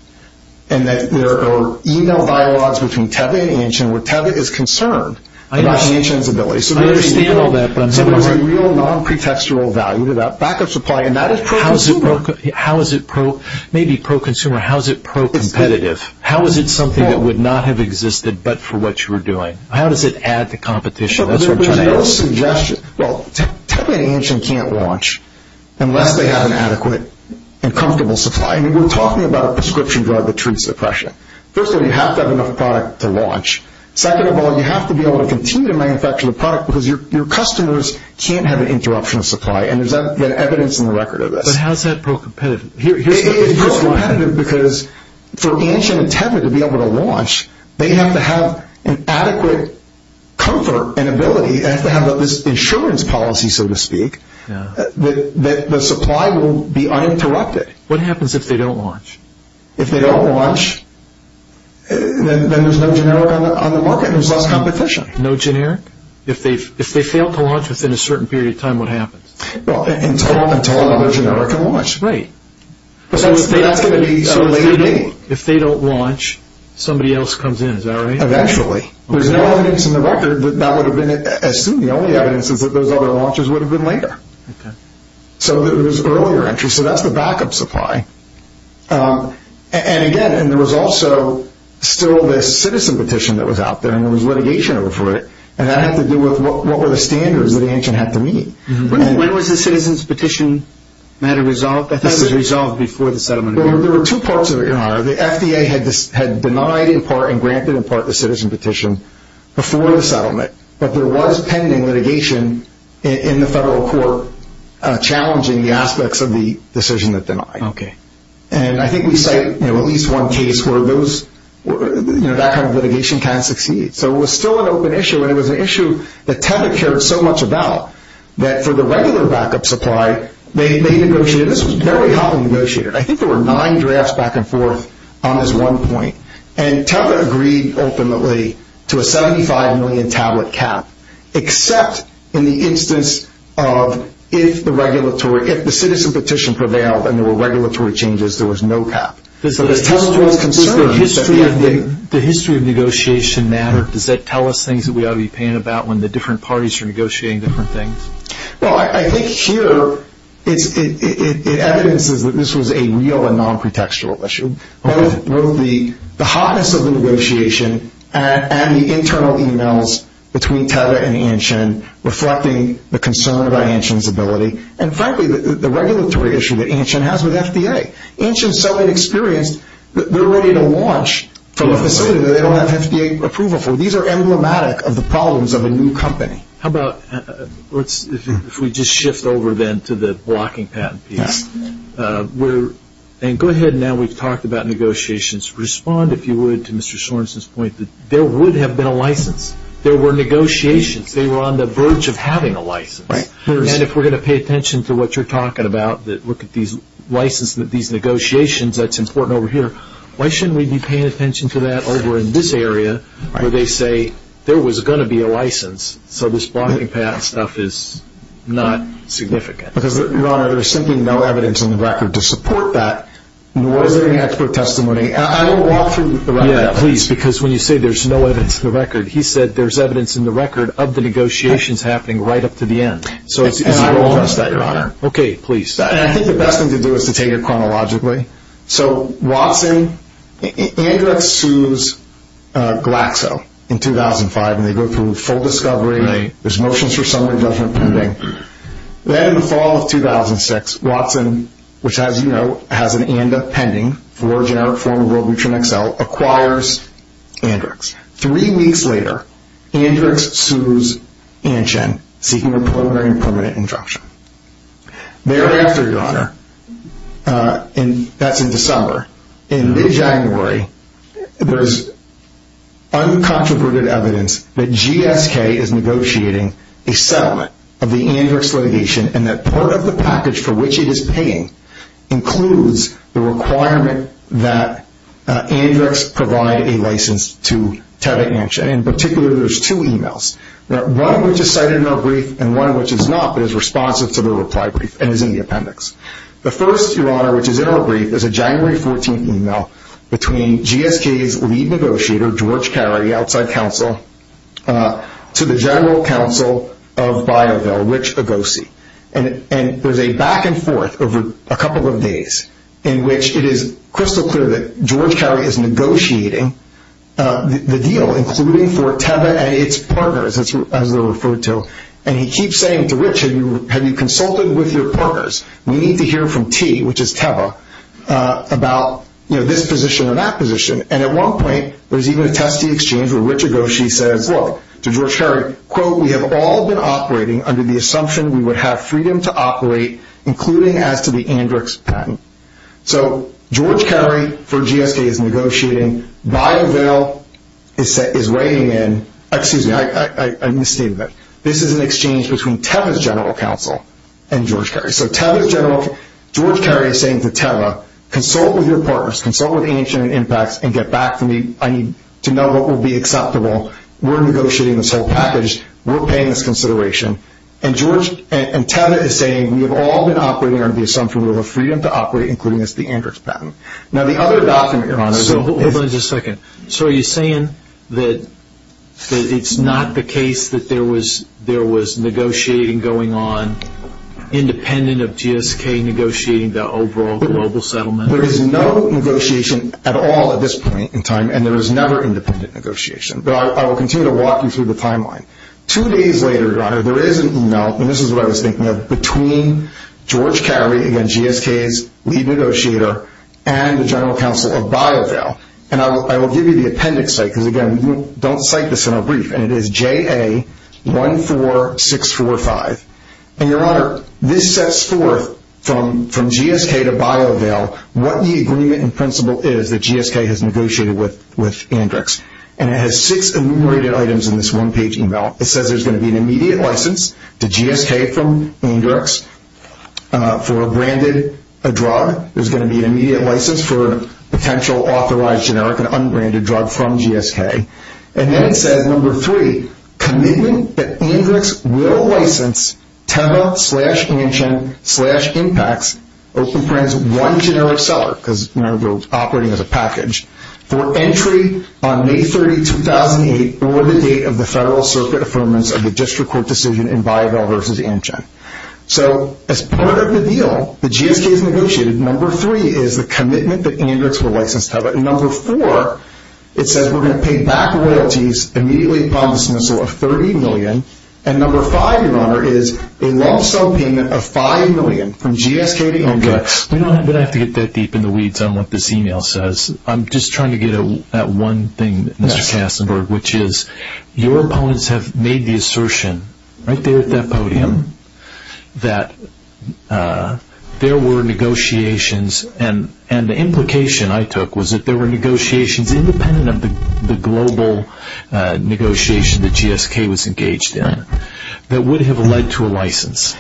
and that there are email dialogues between TEL and Antgen where TEL is concerned about Antgen's ability. So there's a real non-pretextual value to that backup supply. How is it maybe pro-consumer, how is it pro-competitive? How is it something that would not have existed but for what you were doing? How does it add to competition? That's what I'm trying to answer. Well, TEL and Antgen can't launch unless they have an adequate and comfortable supply. We're talking about a prescription drug with true suppression. First of all, you have to have enough product to launch. Second of all, you have to be able to continue to manufacture the product because your customers can't have an interruption of supply, and there's evidence in the record of this. But how is that pro-competitive? It is pro-competitive because for Antgen and TEL to be able to launch, they have to have an adequate comfort and ability and have this insurance policy, so to speak, that the supply will be uninterrupted. What happens if they don't launch? If they don't launch, then there's no generic on the market. There's less competition. No generic? If they fail to launch within a certain period of time, what happens? Well, in TEL and TEL, there's no generic to launch. Right. So if they activate, it's a later game. If they don't launch, somebody else comes in, is that right? Eventually. There's no evidence in the record that that would have been as soon. The only evidence is that those other launches would have been later. So it was earlier entry, so that's the backup supply. And, again, there was also still the citizen petition that was out there, and there was litigation over it, and that had to do with what were the standards that Antgen had to meet. When was the citizen's petition matter resolved? I think it was resolved before the settlement. There were two parts of it. The FDA had denied in part and granted in part the citizen petition before the settlement, but there was pending litigation in the federal court challenging the aspects of the decision that denied. Okay. And I think we cite at least one case where that kind of litigation can succeed. So it was still an open issue, and it was an issue that TEL had cared so much about, that for the regular backup supply, they negotiated. This was very hotly negotiated. I think there were nine drafts back and forth on this one point, and TEL agreed ultimately to a $75 million tablet cap, except in the instance of if the citizen petition prevailed and there were regulatory changes, there was no cap. Does the history of negotiation matter? Does that tell us things that we ought to be paying about when the different parties are negotiating different things? Well, I think here it evidences that this was a real and nonprotextual issue. Both the hotness of the negotiation and the internal e-mails between TEL and Anshan reflecting the concern by Anshan's ability, and frankly, the regulatory issue that Anshan has with FDA. Anshan is so inexperienced, they're ready to launch from a facility that they don't have FDA approval for. These are emblematic of the problems of a new company. How about if we just shift over then to the blocking patent piece? And go ahead now, we've talked about negotiations. Respond, if you would, to Mr. Sorensen's point that there would have been a license. There were negotiations. They were on the verge of having a license. And if we're going to pay attention to what you're talking about, that look at these licenses, these negotiations, that's important over here, why shouldn't we be paying attention to that over in this area where they say there was going to be a license, so this blocking patent stuff is not significant? Because, Your Honor, there's simply no evidence in the record to support that, nor is there any expert testimony. I want to walk through the record. Yeah, please, because when you say there's no evidence in the record, he said there's evidence in the record of the negotiations happening right up to the end. And I want to address that, Your Honor. Okay, please. And I think the best thing to do is to take it chronologically. So, Washington, Andrew X. Chu's Glaxo in 2005, and they go through full discovery, there's motions for summary judgment pending. Then in the fall of 2006, Watson, which, as you know, has an ANDA pending, origin out of form of World Region XL, acquires Andrex. Three weeks later, Andrex sues Anchin, seeking a preliminary and permanent instruction. Thereafter, Your Honor, that's in December, in mid-January, there's uncontroverted evidence that GSK is negotiating a settlement of the Andrex litigation and that part of the package for which it is paying includes the requirement that Andrex provide a license to Kevin Anchin. In particular, there's two emails, one which is cited in our brief and one which is not, but is responsive to the reply brief and is in the appendix. The first, Your Honor, which is in our brief, is a January 14th email between GSK's lead negotiator, George Carey, outside counsel, to the general counsel of BioBell, Rich Agossi. And there's a back and forth over a couple of days in which it is crystal clear that George Carey is negotiating the deal, including for Kevin and its partners, as we'll refer to, and he keeps saying to Rich, have you consulted with your partners? We need to hear from T, which is Teva, about this position and that position. And at one point, there's even a testy exchange where Rich Agossi says, well, to George Carey, quote, we have all been operating under the assumption we would have freedom to operate, including as to the Andrex patent. So George Carey, for GSK, is negotiating. BioBell is writing in, excuse me, I misstated this. This is an exchange between Teva's general counsel and George Carey. So Teva's general counsel, George Carey is saying to Teva, consult with your partners, consult with AMC and IMPACT, and get back to me. I need to know what will be acceptable. We're negotiating this whole package. We're paying this consideration. And Teva is saying, we have all been operating under the assumption we would have freedom to operate, including as to the Andrex patent. Now, the other document you're on is the whole thing. Hold on just a second. So are you saying that it's not the case that there was negotiating going on independent of GSK negotiating the overall global settlement? There is no negotiation at all at this point in time, and there is never independent negotiation. But I will continue to walk you through the timeline. Two days later, there is an email, and this is what I was thinking of, between George Carey, again, GSK's lead negotiator, and the general counsel of BioVale. And I will give you the appendix, because, again, you don't cite this in a brief, and it is JA14645. And, Your Honor, this sets forth from GSK to BioVale what the agreement and principle is that GSK has negotiated with Andrex. And it has six enumerated items in this one-page email. It says there's going to be an immediate license to GSK from Andrex for a branded drug. There's going to be an immediate license for a potential authorized generic, an unbranded drug from GSK. And then it says, number three, commitment that Andrex will license TEMBA-slash-ANCHIN-slash-IMPAX, those two brands, one generic seller, because it's operating as a package, for entry on May 30, 2008, or the date of the Federal Circuit Affirmation of the District Court decision in BioVale-versus-ANCHIN. So, as part of the deal, the GSK has negotiated. Number three is the commitment that Andrex will license TEMBA. And number four, it says we're going to pay back royalties immediately promised in the store of $30 million. And number five, Your Honor, is a long-term payment of $5 million from GSK to Andrex. We don't have to get that deep in the weeds on what this email says. I'm just trying to get at one thing, Mr. Kastenberg, which is your opponents have made the assertion right there at that podium that there were negotiations, and the implication I took was that there were negotiations, independent of the global negotiation that GSK was engaged in, that would have led to a license.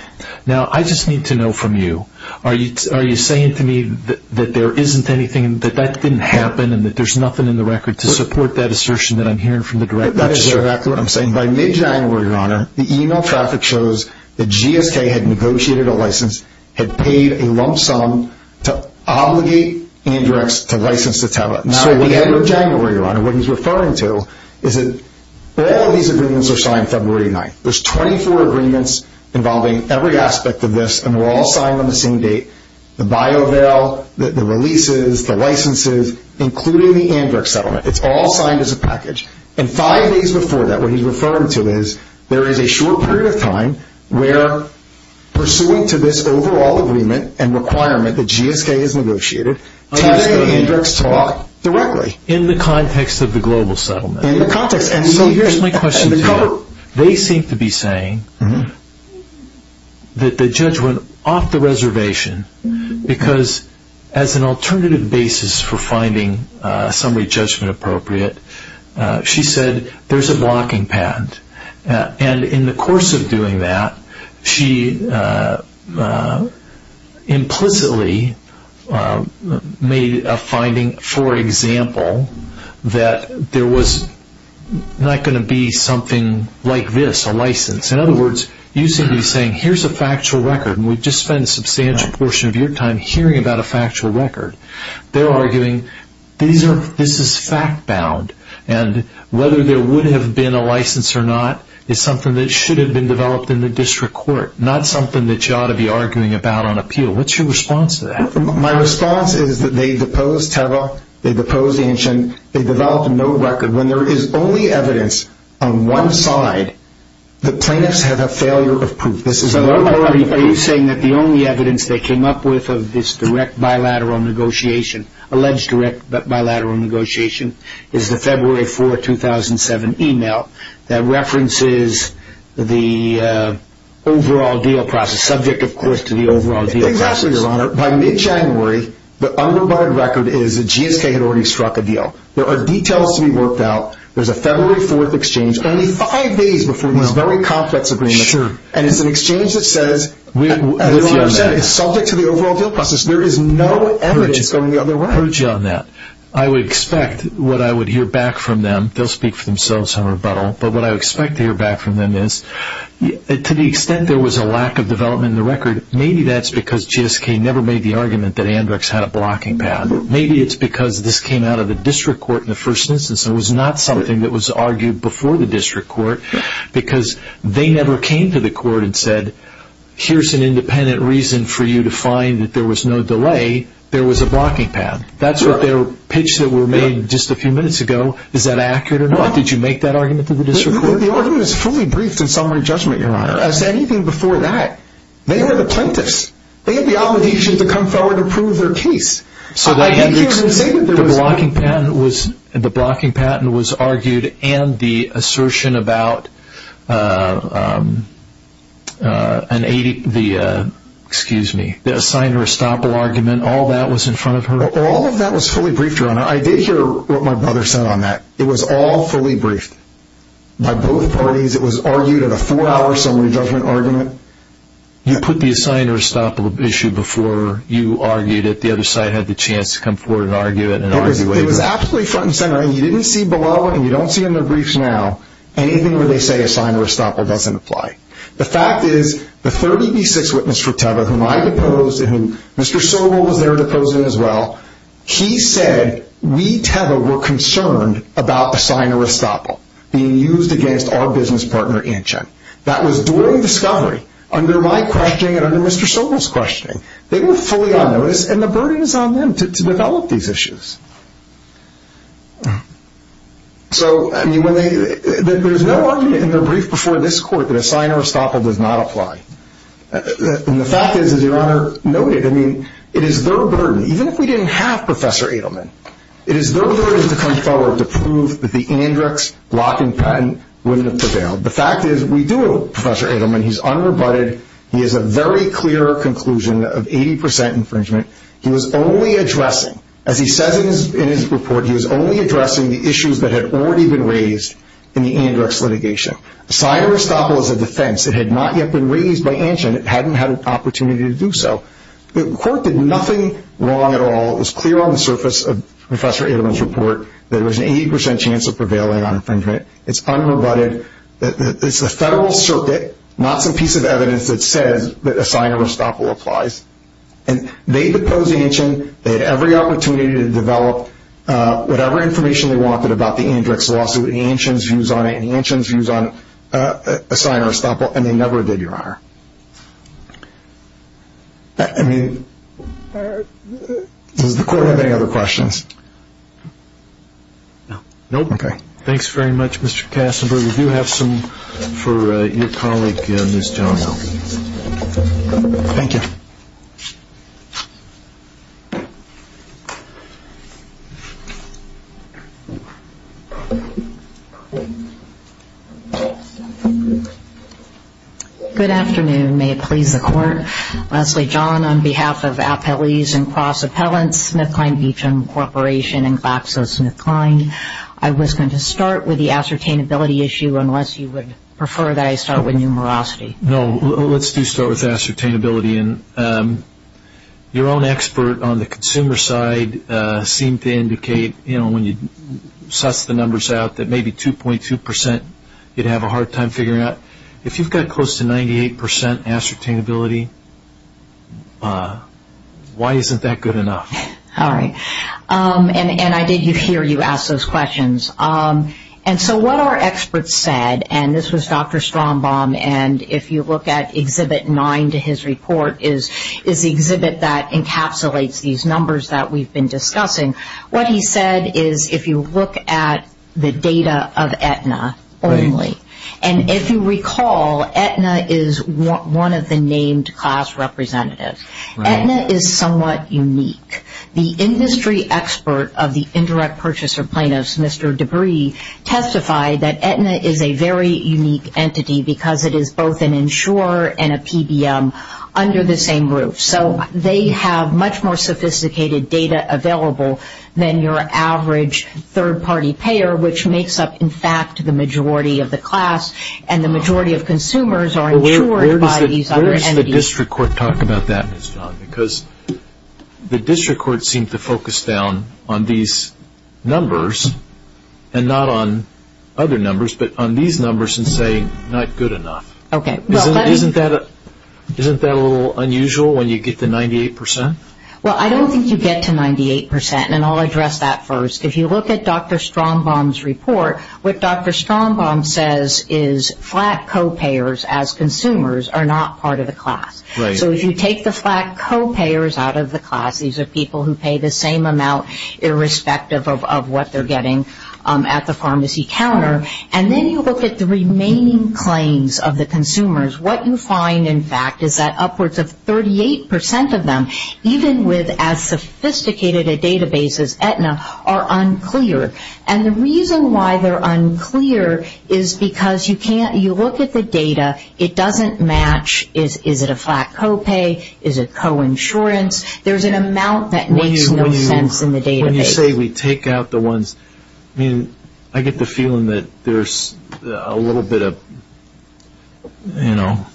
Now, I just need to know from you. Are you saying to me that there isn't anything, that that didn't happen, and that there's nothing in the record to support that assertion that I'm hearing from the director? That's exactly what I'm saying. By mid-January, Your Honor, the email traffic shows that GSK had negotiated a license, had paid a lump sum to obligate Andrex to license the TEMBA. So, at the end of January, Your Honor, what he's referring to is that all these agreements are signed February 9th. There's 24 agreements involving every aspect of this, and they're all signed on the same date. The biovail, the releases, the licenses, including the Andrex settlement, it's all signed as a package. And five days before that, what he's referring to is there is a short period of time where, pursuant to this overall agreement and requirement that GSK has negotiated, GSK and Andrex talk directly. In the context. Here's my question. They seem to be saying that the judge went off the reservation because, as an alternative basis for finding a summary judgment appropriate, she said there's a blocking patent. And in the course of doing that, she implicitly made a finding, for example, that there was not going to be something like this, a license. In other words, you seem to be saying here's a factual record, and we've just spent a substantial portion of your time hearing about a factual record. They're arguing this is fact-bound, and whether there would have been a license or not is something that should have been developed in the district court, not something that you ought to be arguing about on appeal. What's your response to that? My response is that they deposed Teva, they deposed Inch, and they developed no record. When there is only evidence on one side, the plaintiffs have a failure of proof. Are you saying that the only evidence they came up with of this direct bilateral negotiation, alleged direct bilateral negotiation, is the February 4, 2007 email that references the overall deal process, subject, of course, to the overall deal process? By mid-January, the underbarred record is the GSK had already struck a deal. There are details to be worked out. There's a February 4th exchange, only five days before the very complex agreement. And it's an exchange that says, as I said, it's subject to the overall deal process. There is no evidence on the other side. I would expect what I would hear back from them, they'll speak for themselves in rebuttal, but what I would expect to hear back from them is, to the extent there was a lack of development in the record, maybe that's because GSK never made the argument that Andrux had a blocking pad. Maybe it's because this came out of the district court in the first instance and was not something that was argued before the district court, because they never came to the court and said, here's an independent reason for you to find that there was no delay. There was a blocking pad. That's what their pitch that were made just a few minutes ago. Is that accurate or not? Did you make that argument to the district court? It was truly briefed in summary judgment, Your Honor. As anything before that, they were the plaintiffs. They had the obligation to come forward and prove their case. The blocking pad was argued and the assertion about the Assigner-Estoppel argument, all that was in front of her. All of that was fully briefed, Your Honor. I did hear what my brother said on that. It was all fully briefed by both parties. It was argued in a four-hour summary judgment argument. You put the Assigner-Estoppel issue before you argued it. The other side had the chance to come forward and argue it. It was absolutely front and center. You didn't see below it, and you don't see it in the briefs now. And even when they say Assigner-Estoppel, it doesn't apply. The fact is, the 36th witness for Teva, whom I deposed and whom Mr. Sobel was there deposing as well, he said we, Teva, were concerned about Assigner-Estoppel being used against our business partner, Inchen. That was during discovery, under my questioning and under Mr. Sobel's questioning. They were fully unnoticed, and the burden is on them to develop these issues. So, I mean, there's no argument in the brief before this Court that Assigner-Estoppel does not apply. And the fact is, as Your Honor noted, I mean, it is their burden, even if we didn't have Professor Adelman, it is their burden to come forward to prove that the in-index blocking patent wouldn't have prevailed. The fact is, we do have Professor Adelman. He's unrebutted. He has a very clear conclusion of 80% infringement. He was only addressing, as he says in his report, he was only addressing the issues that had already been raised in the in-index litigation. Assigner-Estoppel is a defense. It had not yet been raised by Inchen. It hadn't had an opportunity to do so. The Court did nothing wrong at all. It was clear on the surface of Professor Adelman's report that there was an 80% chance of prevailing on infringement. It's unrebutted. It's a federal circuit, not some piece of evidence that says that Assigner-Estoppel applies. And they deposed Inchen. They had every opportunity to develop whatever information they wanted about the in-index law. So Inchen's views on it, Inchen's views on Assigner-Estoppel, and they never did, Your Honor. I mean, does the Court have any other questions? No? Okay. Thanks very much, Mr. Kassenberg. We do have some for your colleague, Ms. John. Thank you. Good afternoon. May it please the Court? Leslie John, on behalf of Appellees and Cross Appellants, I was going to start with the ascertainability issue unless you would prefer that I start with numerosity. No, let's do start with ascertainability. And your own expert on the consumer side seemed to indicate, you know, when you sussed the numbers out that maybe 2.2% you'd have a hard time figuring out. If you've got close to 98% ascertainability, why isn't that good enough? All right. And I did hear you ask those questions. And so what our expert said, and this was Dr. Strombaum, and if you look at Exhibit 9 to his report is the exhibit that encapsulates these numbers that we've been discussing. What he said is if you look at the data of Aetna only, and if you recall, Aetna is one of the named class representatives. Aetna is somewhat unique. The industry expert of the indirect purchaser plaintiffs, Mr. Debris, testified that Aetna is a very unique entity because it is both an insurer and a PBM under the same roof. So they have much more sophisticated data available than your average third-party payer, which makes up, in fact, the majority of the class, and the majority of consumers are insured by these other entities. Where does the district court talk about that, Ms. Vaughn? Because the district court seemed to focus down on these numbers and not on other numbers, but on these numbers and say not good enough. Okay. Isn't that a little unusual when you get to 98%? Well, I don't think you get to 98%, and I'll address that first. If you look at Dr. Strombaum's report, what Dr. Strombaum says is flat copayers as consumers are not part of the class. So if you take the flat copayers out of the class, these are people who pay the same amount irrespective of what they're getting at the pharmacy counter, and then you look at the remaining claims of the consumers, what you find, in fact, is that upwards of 38% of them, even with as sophisticated a database as Aetna, are unclear. And the reason why they're unclear is because you look at the data. It doesn't match is it a flat copay, is it coinsurance. There's an amount that makes no sense in the database. When you say we take out the ones, I mean, I get the feeling that there's a little bit of, you know,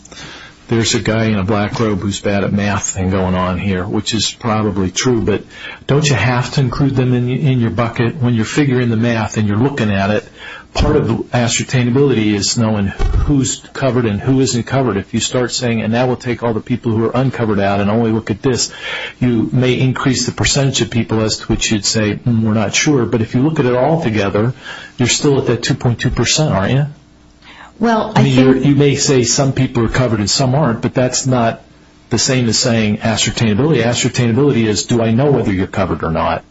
there's a guy in a black robe who's bad at math thing going on here, which is probably true, but don't you have to include them in your bucket? When you're figuring the math and you're looking at it, part of the ascertainability is knowing who's covered and who isn't covered. If you start saying, and now we'll take all the people who are uncovered out and only look at this, you may increase the percentage of people as to which you'd say we're not sure, but if you look at it all together, you're still at that 2.2%, aren't you? I mean, you may say some people are covered and some aren't, but that's not the same as saying ascertainability. Ascertainability is do I know whether you're covered or not?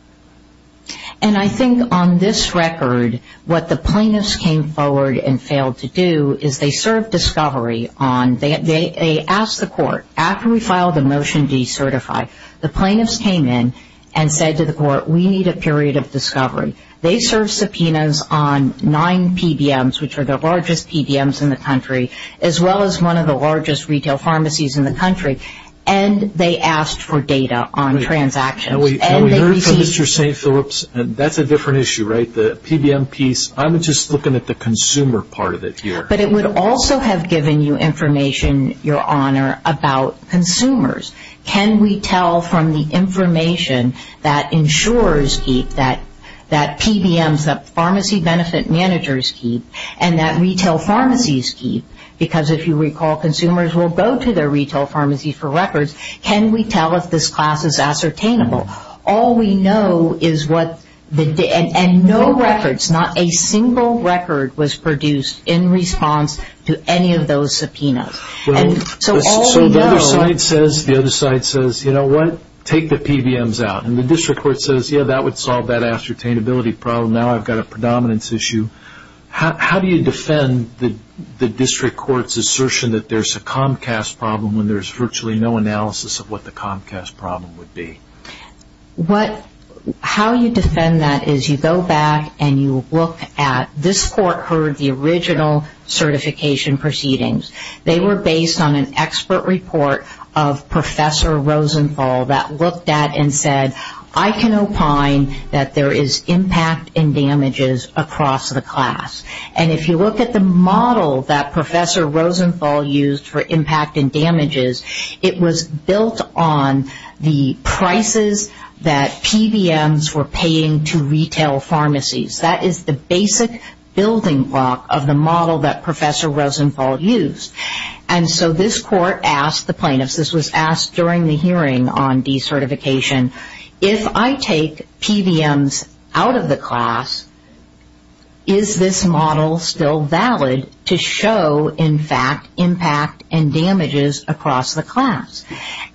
And I think on this record, what the plaintiffs came forward and failed to do is they served discovery on, they asked the court, after we filed a Motion D certified, the plaintiffs came in and said to the court, we need a period of discovery. They served subpoenas on nine PBMs, which are the largest PBMs in the country, as well as one of the largest retail pharmacies in the country, and they asked for data on transactions. And we heard from Mr. St. Philip's, and that's a different issue, right? The PBM piece, I'm just looking at the consumer part of it here. But it would also have given you information, Your Honor, about consumers. Can we tell from the information that insurers keep, that PBMs, that pharmacy benefit managers keep, and that retail pharmacies keep? Because if you recall, consumers will go to their retail pharmacy for records. Can we tell if this class is ascertainable? All we know is what, and no records, not a single record was produced in response to any of those subpoenas. So the other side says, you know what, take the PBMs out. And the district court says, yeah, that would solve that ascertainability problem. Now I've got a predominance issue. How do you defend the district court's assertion that there's a Comcast problem when there's virtually no analysis of what the Comcast problem would be? How you defend that is you go back and you look at, this court heard the original certification proceedings. They were based on an expert report of Professor Rosenthal that looked at and said, I can opine that there is impact and damages across the class. And if you look at the model that Professor Rosenthal used for impact and damages, it was built on the prices that PBMs were paying to retail pharmacies. That is the basic building block of the model that Professor Rosenthal used. And so this court asked the plaintiffs, this was asked during the hearing on decertification, if I take PBMs out of the class, is this model still valid to show, in fact, impact and damages across the class?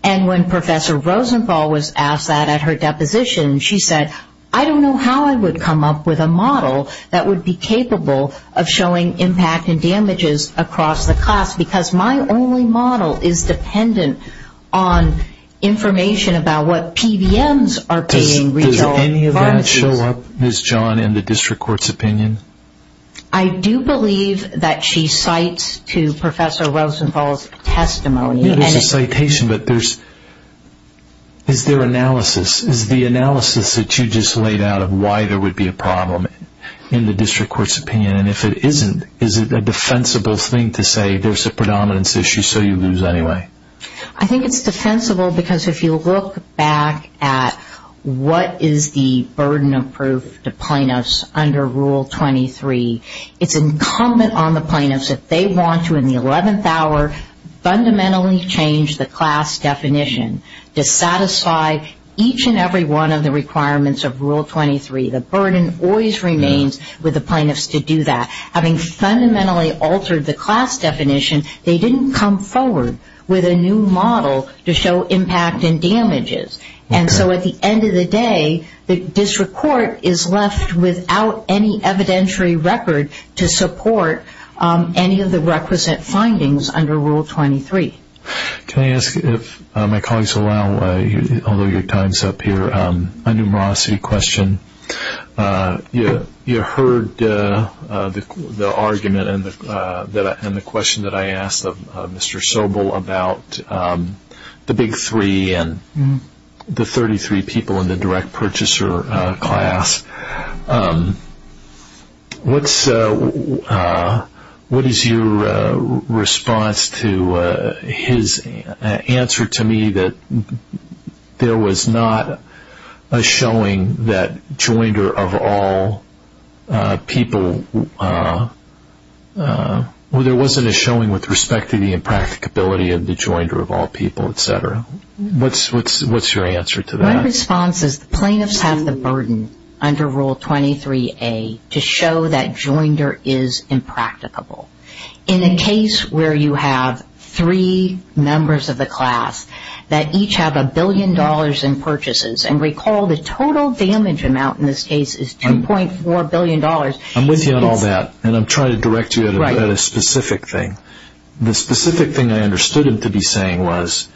And when Professor Rosenthal was asked that at her deposition, she said, I don't know how I would come up with a model that would be capable of showing impact and damages across the class because my only model is dependent on information about what PBMs are paying retail pharmacies. Did any of that show up, Ms. John, in the district court's opinion? I do believe that she cites to Professor Rosenthal's testimony. This is a citation, but is there analysis? Is the analysis that you just laid out of why there would be a problem in the district court's opinion? And if it isn't, is it a defensible thing to say there's a predominance issue, so you lose anyway? I think it's defensible because if you look back at what is the burden of proof to plaintiffs under Rule 23, it's incumbent on the plaintiffs if they want to, in the 11th hour, fundamentally change the class definition to satisfy each and every one of the requirements of Rule 23. The burden always remains with the plaintiffs to do that. Having fundamentally altered the class definition, they didn't come forward with a new model to show impact and damages. And so at the end of the day, the district court is left without any evidentiary record to support any of the requisite findings under Rule 23. Can I ask, if my colleagues allow, although your time is up here, a numerosity question. You heard the argument and the question that I asked of Mr. Sobel about the big three and the 33 people in the direct purchaser class. What is your response to his answer to me that there was not a showing that joinder of all people, well, there wasn't a showing with respect to the impracticability of the joinder of all people, et cetera. What's your answer to that? My response is the plaintiffs have the burden under Rule 23A to show that joinder is impracticable. In a case where you have three members of the class that each have a billion dollars in purchases, and recall the total damage amount in this case is $10.4 billion. I'm with you on all that, and I'm trying to direct you at a specific thing. The specific thing I understood him to be saying was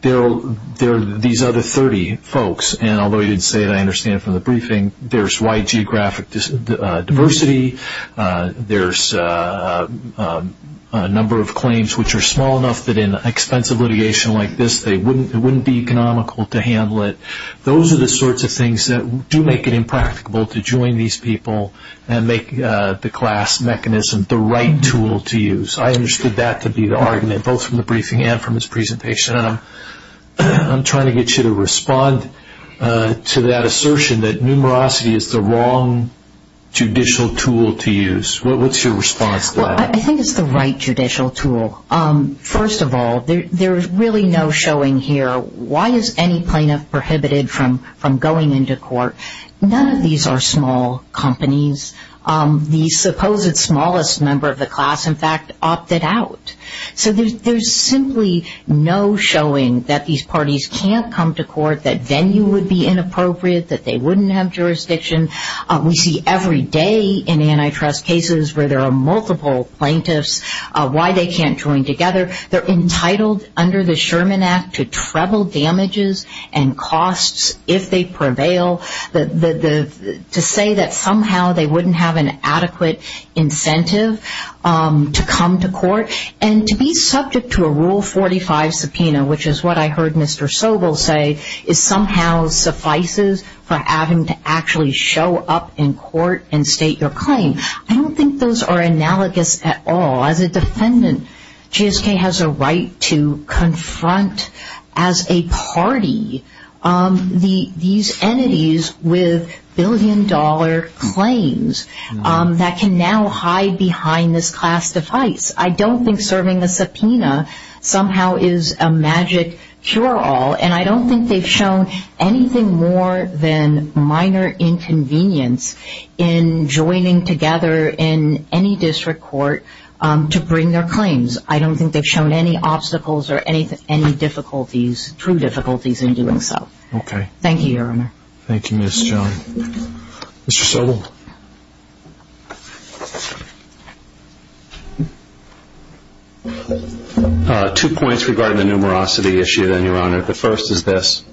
there are these other 30 folks, and although he didn't say it, I understand from the briefing, there's wide geographic diversity, there's a number of claims which are small enough that in expensive litigation like this, it wouldn't be economical to handle it. Those are the sorts of things that do make it impracticable to join these people and make the class mechanism the right tool to use. I understood that to be the argument both from the briefing and from his presentation, and I'm trying to get you to respond to that assertion that numerosity is the wrong judicial tool to use. What's your response to that? I think it's the right judicial tool. First of all, there's really no showing here. Why is any plaintiff prohibited from going into court? None of these are small companies. The supposed smallest member of the class, in fact, opted out. So there's simply no showing that these parties can't come to court, that venue would be inappropriate, that they wouldn't have jurisdiction. We see every day in antitrust cases where there are multiple plaintiffs, why they can't join together. They're entitled under the Sherman Act to treble damages and costs if they prevail. To say that somehow they wouldn't have an adequate incentive to come to court and to be subject to a Rule 45 subpoena, which is what I heard Mr. Sobel say, is somehow suffices for having to actually show up in court and state your claim. I don't think those are analogous at all. As a defendant, GSK has a right to confront, as a party, these entities with billion-dollar claims that can now hide behind this class defiance. I don't think serving a subpoena somehow is a magic cure-all, and I don't think they've shown anything more than minor inconvenience in joining together in any district court to bring their claims. I don't think they've shown any obstacles or any difficulties, true difficulties in doing so. Thank you, Your Honor. Thank you, Ms. Jones. Mr. Sobel? Two points regarding the numerosity issue, then, Your Honor. The first is this.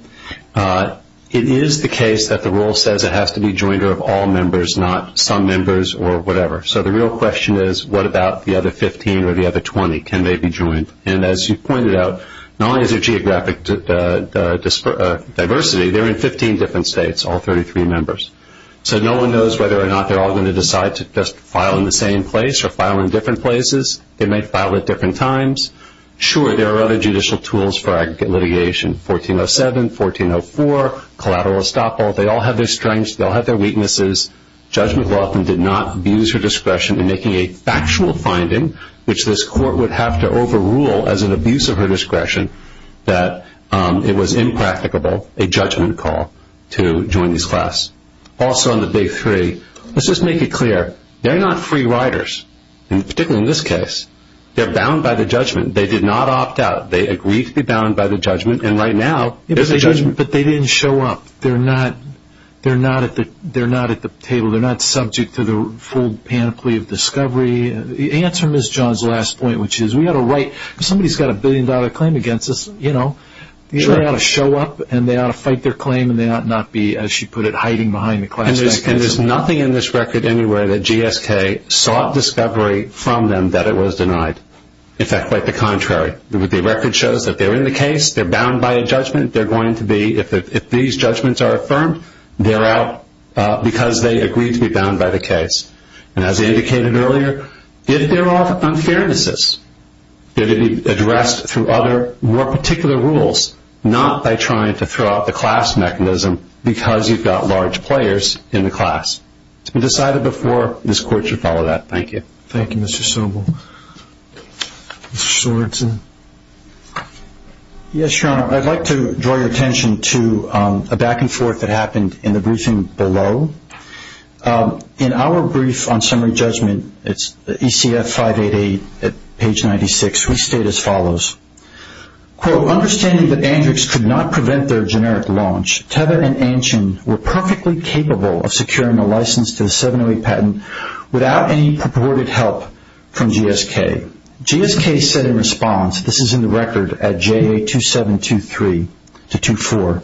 It is the case that the Rule says it has to be joined of all members, not some members or whatever. So the real question is, what about the other 15 or the other 20? Can they be joined? And as you pointed out, not only is there geographic diversity, they're in 15 different states, all 33 members. So no one knows whether or not they're all going to decide to just file in the same place or file in different places. They may file at different times. Sure, there are other judicial tools for litigation, 1407, 1404, collateral estoppel. They all have their strengths. They all have their weaknesses. Judge McLaughlin did not abuse her discretion in making a factual finding, which this court would have to overrule as an abuse of her discretion, that it was impracticable, a judgment call, to join these classes. Also on the Day 3, let's just make it clear. They're not free riders, particularly in this case. They're bound by the judgment. They did not opt out. They agreed to be bound by the judgment, and right now there's a judgment. But they didn't show up. They're not at the table. They're not subject to the full panoply of discovery. Answer Ms. John's last point, which is we ought to write. If somebody's got a billion-dollar claim against us, you know, they ought to show up and they ought to fight their claim and they ought not be, as she put it, hiding behind the classified case. And there's nothing in this record anywhere that GSK sought discovery from them that it was denied. In fact, quite the contrary. The record shows that they're in the case, they're bound by a judgment, they're going to be, if these judgments are affirmed, they're out because they agreed to be bound by the case. And as I indicated earlier, if there are unfairnesses, they're to be addressed through other more particular rules, not by trying to throw out the class mechanism because you've got large players in the class. It's been decided before this court should follow that. Thank you. Thank you, Mr. Sobel. Mr. Sorensen. Yes, Your Honor. I'd like to draw your attention to a back-and-forth that happened in the briefing below. In our brief on summary judgment, it's ECF 588 at page 96, we state as follows, quote, understanding that Andrews could not prevent their generic launch, Teva and Anchin were perfectly capable of securing the license to the 708 patent without any purported help from GSK. GSK said in response, this is in the record at JA2723-24,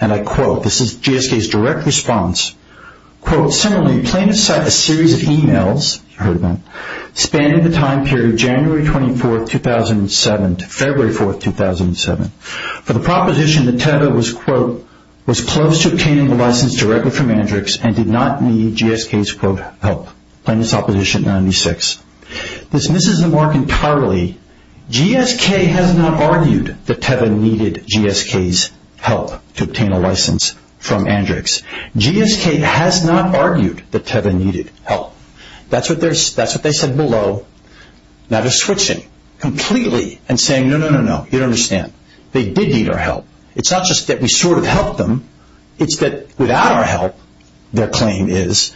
and I quote, this is GSK's direct response, quote, similarly, plain to sight, a series of e-mails, you've heard of them, spanning the time period January 24, 2007 to February 4, 2007, for the proposition that Teva was, quote, was close to obtaining the license directly from Andrews and did not need GSK's, quote, help. Plaintiff's opposition, 96. This misses the mark entirely. GSK has not argued that Teva needed GSK's help to obtain a license from Andrews. GSK has not argued that Teva needed help. That's what they said below. Now they're switching completely and saying, no, no, no, no, you don't understand. They did need our help. It's not just that we sort of helped them, it's that without our help, their claim is,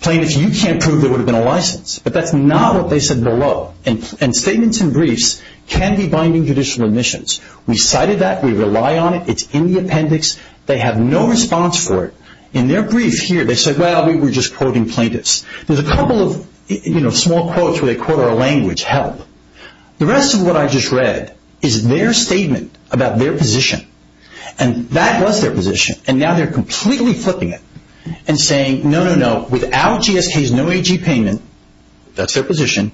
plaintiffs, you can't prove there would have been a license. But that's not what they said below. And statements and briefs can be binding judicial remissions. We cited that. We rely on it. It's in the appendix. They have no response for it. In their brief here, they said, well, we were just quoting plaintiffs. There's a couple of, you know, small quotes where they quote our language, help. The rest of what I just read is their statement about their position. And that was their position. And now they're completely flipping it and saying, no, no, no, without GSK's no AG payment, that's their position,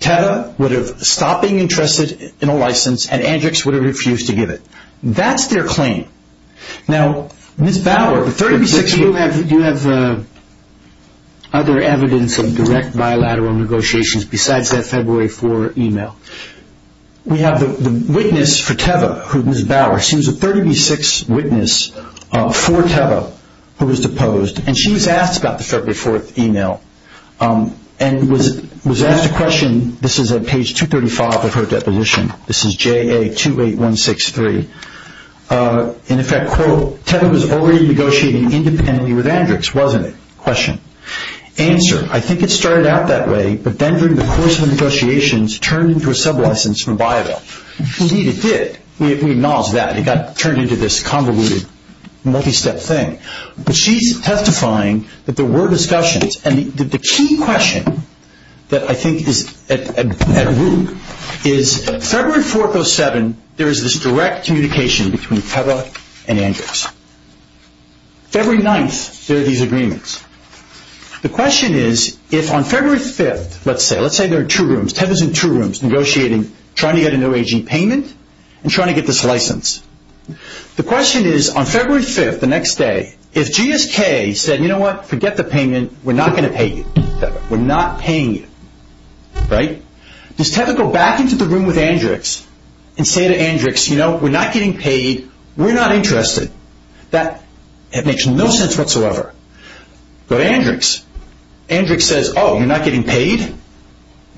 Teva would have stopped being interested in a license and Andrews would have refused to give it. That's their claim. Now, Ms. Bauer, you have other evidence of direct bilateral negotiations besides that February 4th e-mail. We have the witness for Teva, who is Ms. Bauer. She was a 30B6 witness for Teva who was deposed, and she was asked about the February 4th e-mail and was asked a question. This is on page 235 of her deposition. This is JA28163. In effect, quote, Teva was already negotiating independently with Andrews, wasn't it? Question. Answer, I think it started out that way, but then during the course of the negotiations, turned into a sublicense from Biola. She needed it. We acknowledge that. It got turned into this convoluted, multi-step thing. But she's testifying that there were discussions. The key question that I think is at root is that February 4-7, there is this direct communication between Teva and Andrews. February 9th, there are these agreements. The question is, if on February 5th, let's say, let's say there are two rooms, Tevas and two rooms, negotiating trying to get a no aging payment and trying to get this license. The question is, on February 5th, the next day, if GSK said, you know what, forget the payment, we're not going to pay you. We're not paying you, right? Does Teva go back into the room with Andrews and say to Andrews, you know, we're not getting paid, we're not interested? That makes no sense whatsoever. But Andrews, Andrews says, oh, you're not getting paid?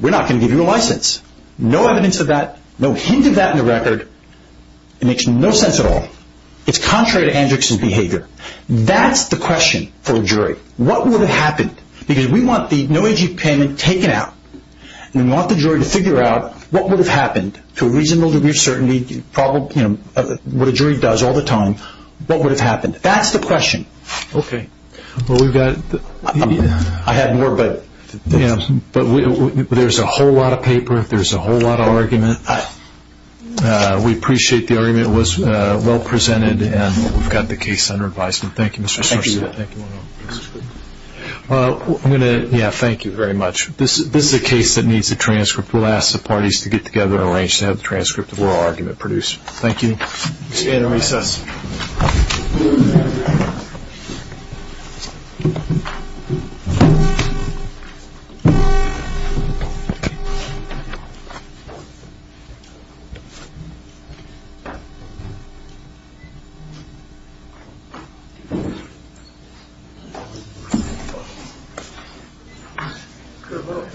We're not going to give you a license. No evidence of that, no hint of that in the record. It makes no sense at all. It's contrary to Andrews' behavior. That's the question for a jury. What would have happened? Because we want the no aging payment taken out, and we want the jury to figure out what would have happened to a reasonable degree of certainty, you know, what a jury does all the time, what would have happened? That's the question. Okay. Well, we've got the – I had more, but – Yes, but there's a whole lot of paper, there's a whole lot of argument. We appreciate the argument. It was well presented, and we've got the case under advisement. Thank you, Mr. Sarson. Thank you. Well, I'm going to – yeah, thank you very much. This is a case that needs a transcript. We'll ask the parties to get together and arrange to have a transcript of what our argument produced. Thank you. We're going to recess. All right. Thank you. Thank you. Thank you.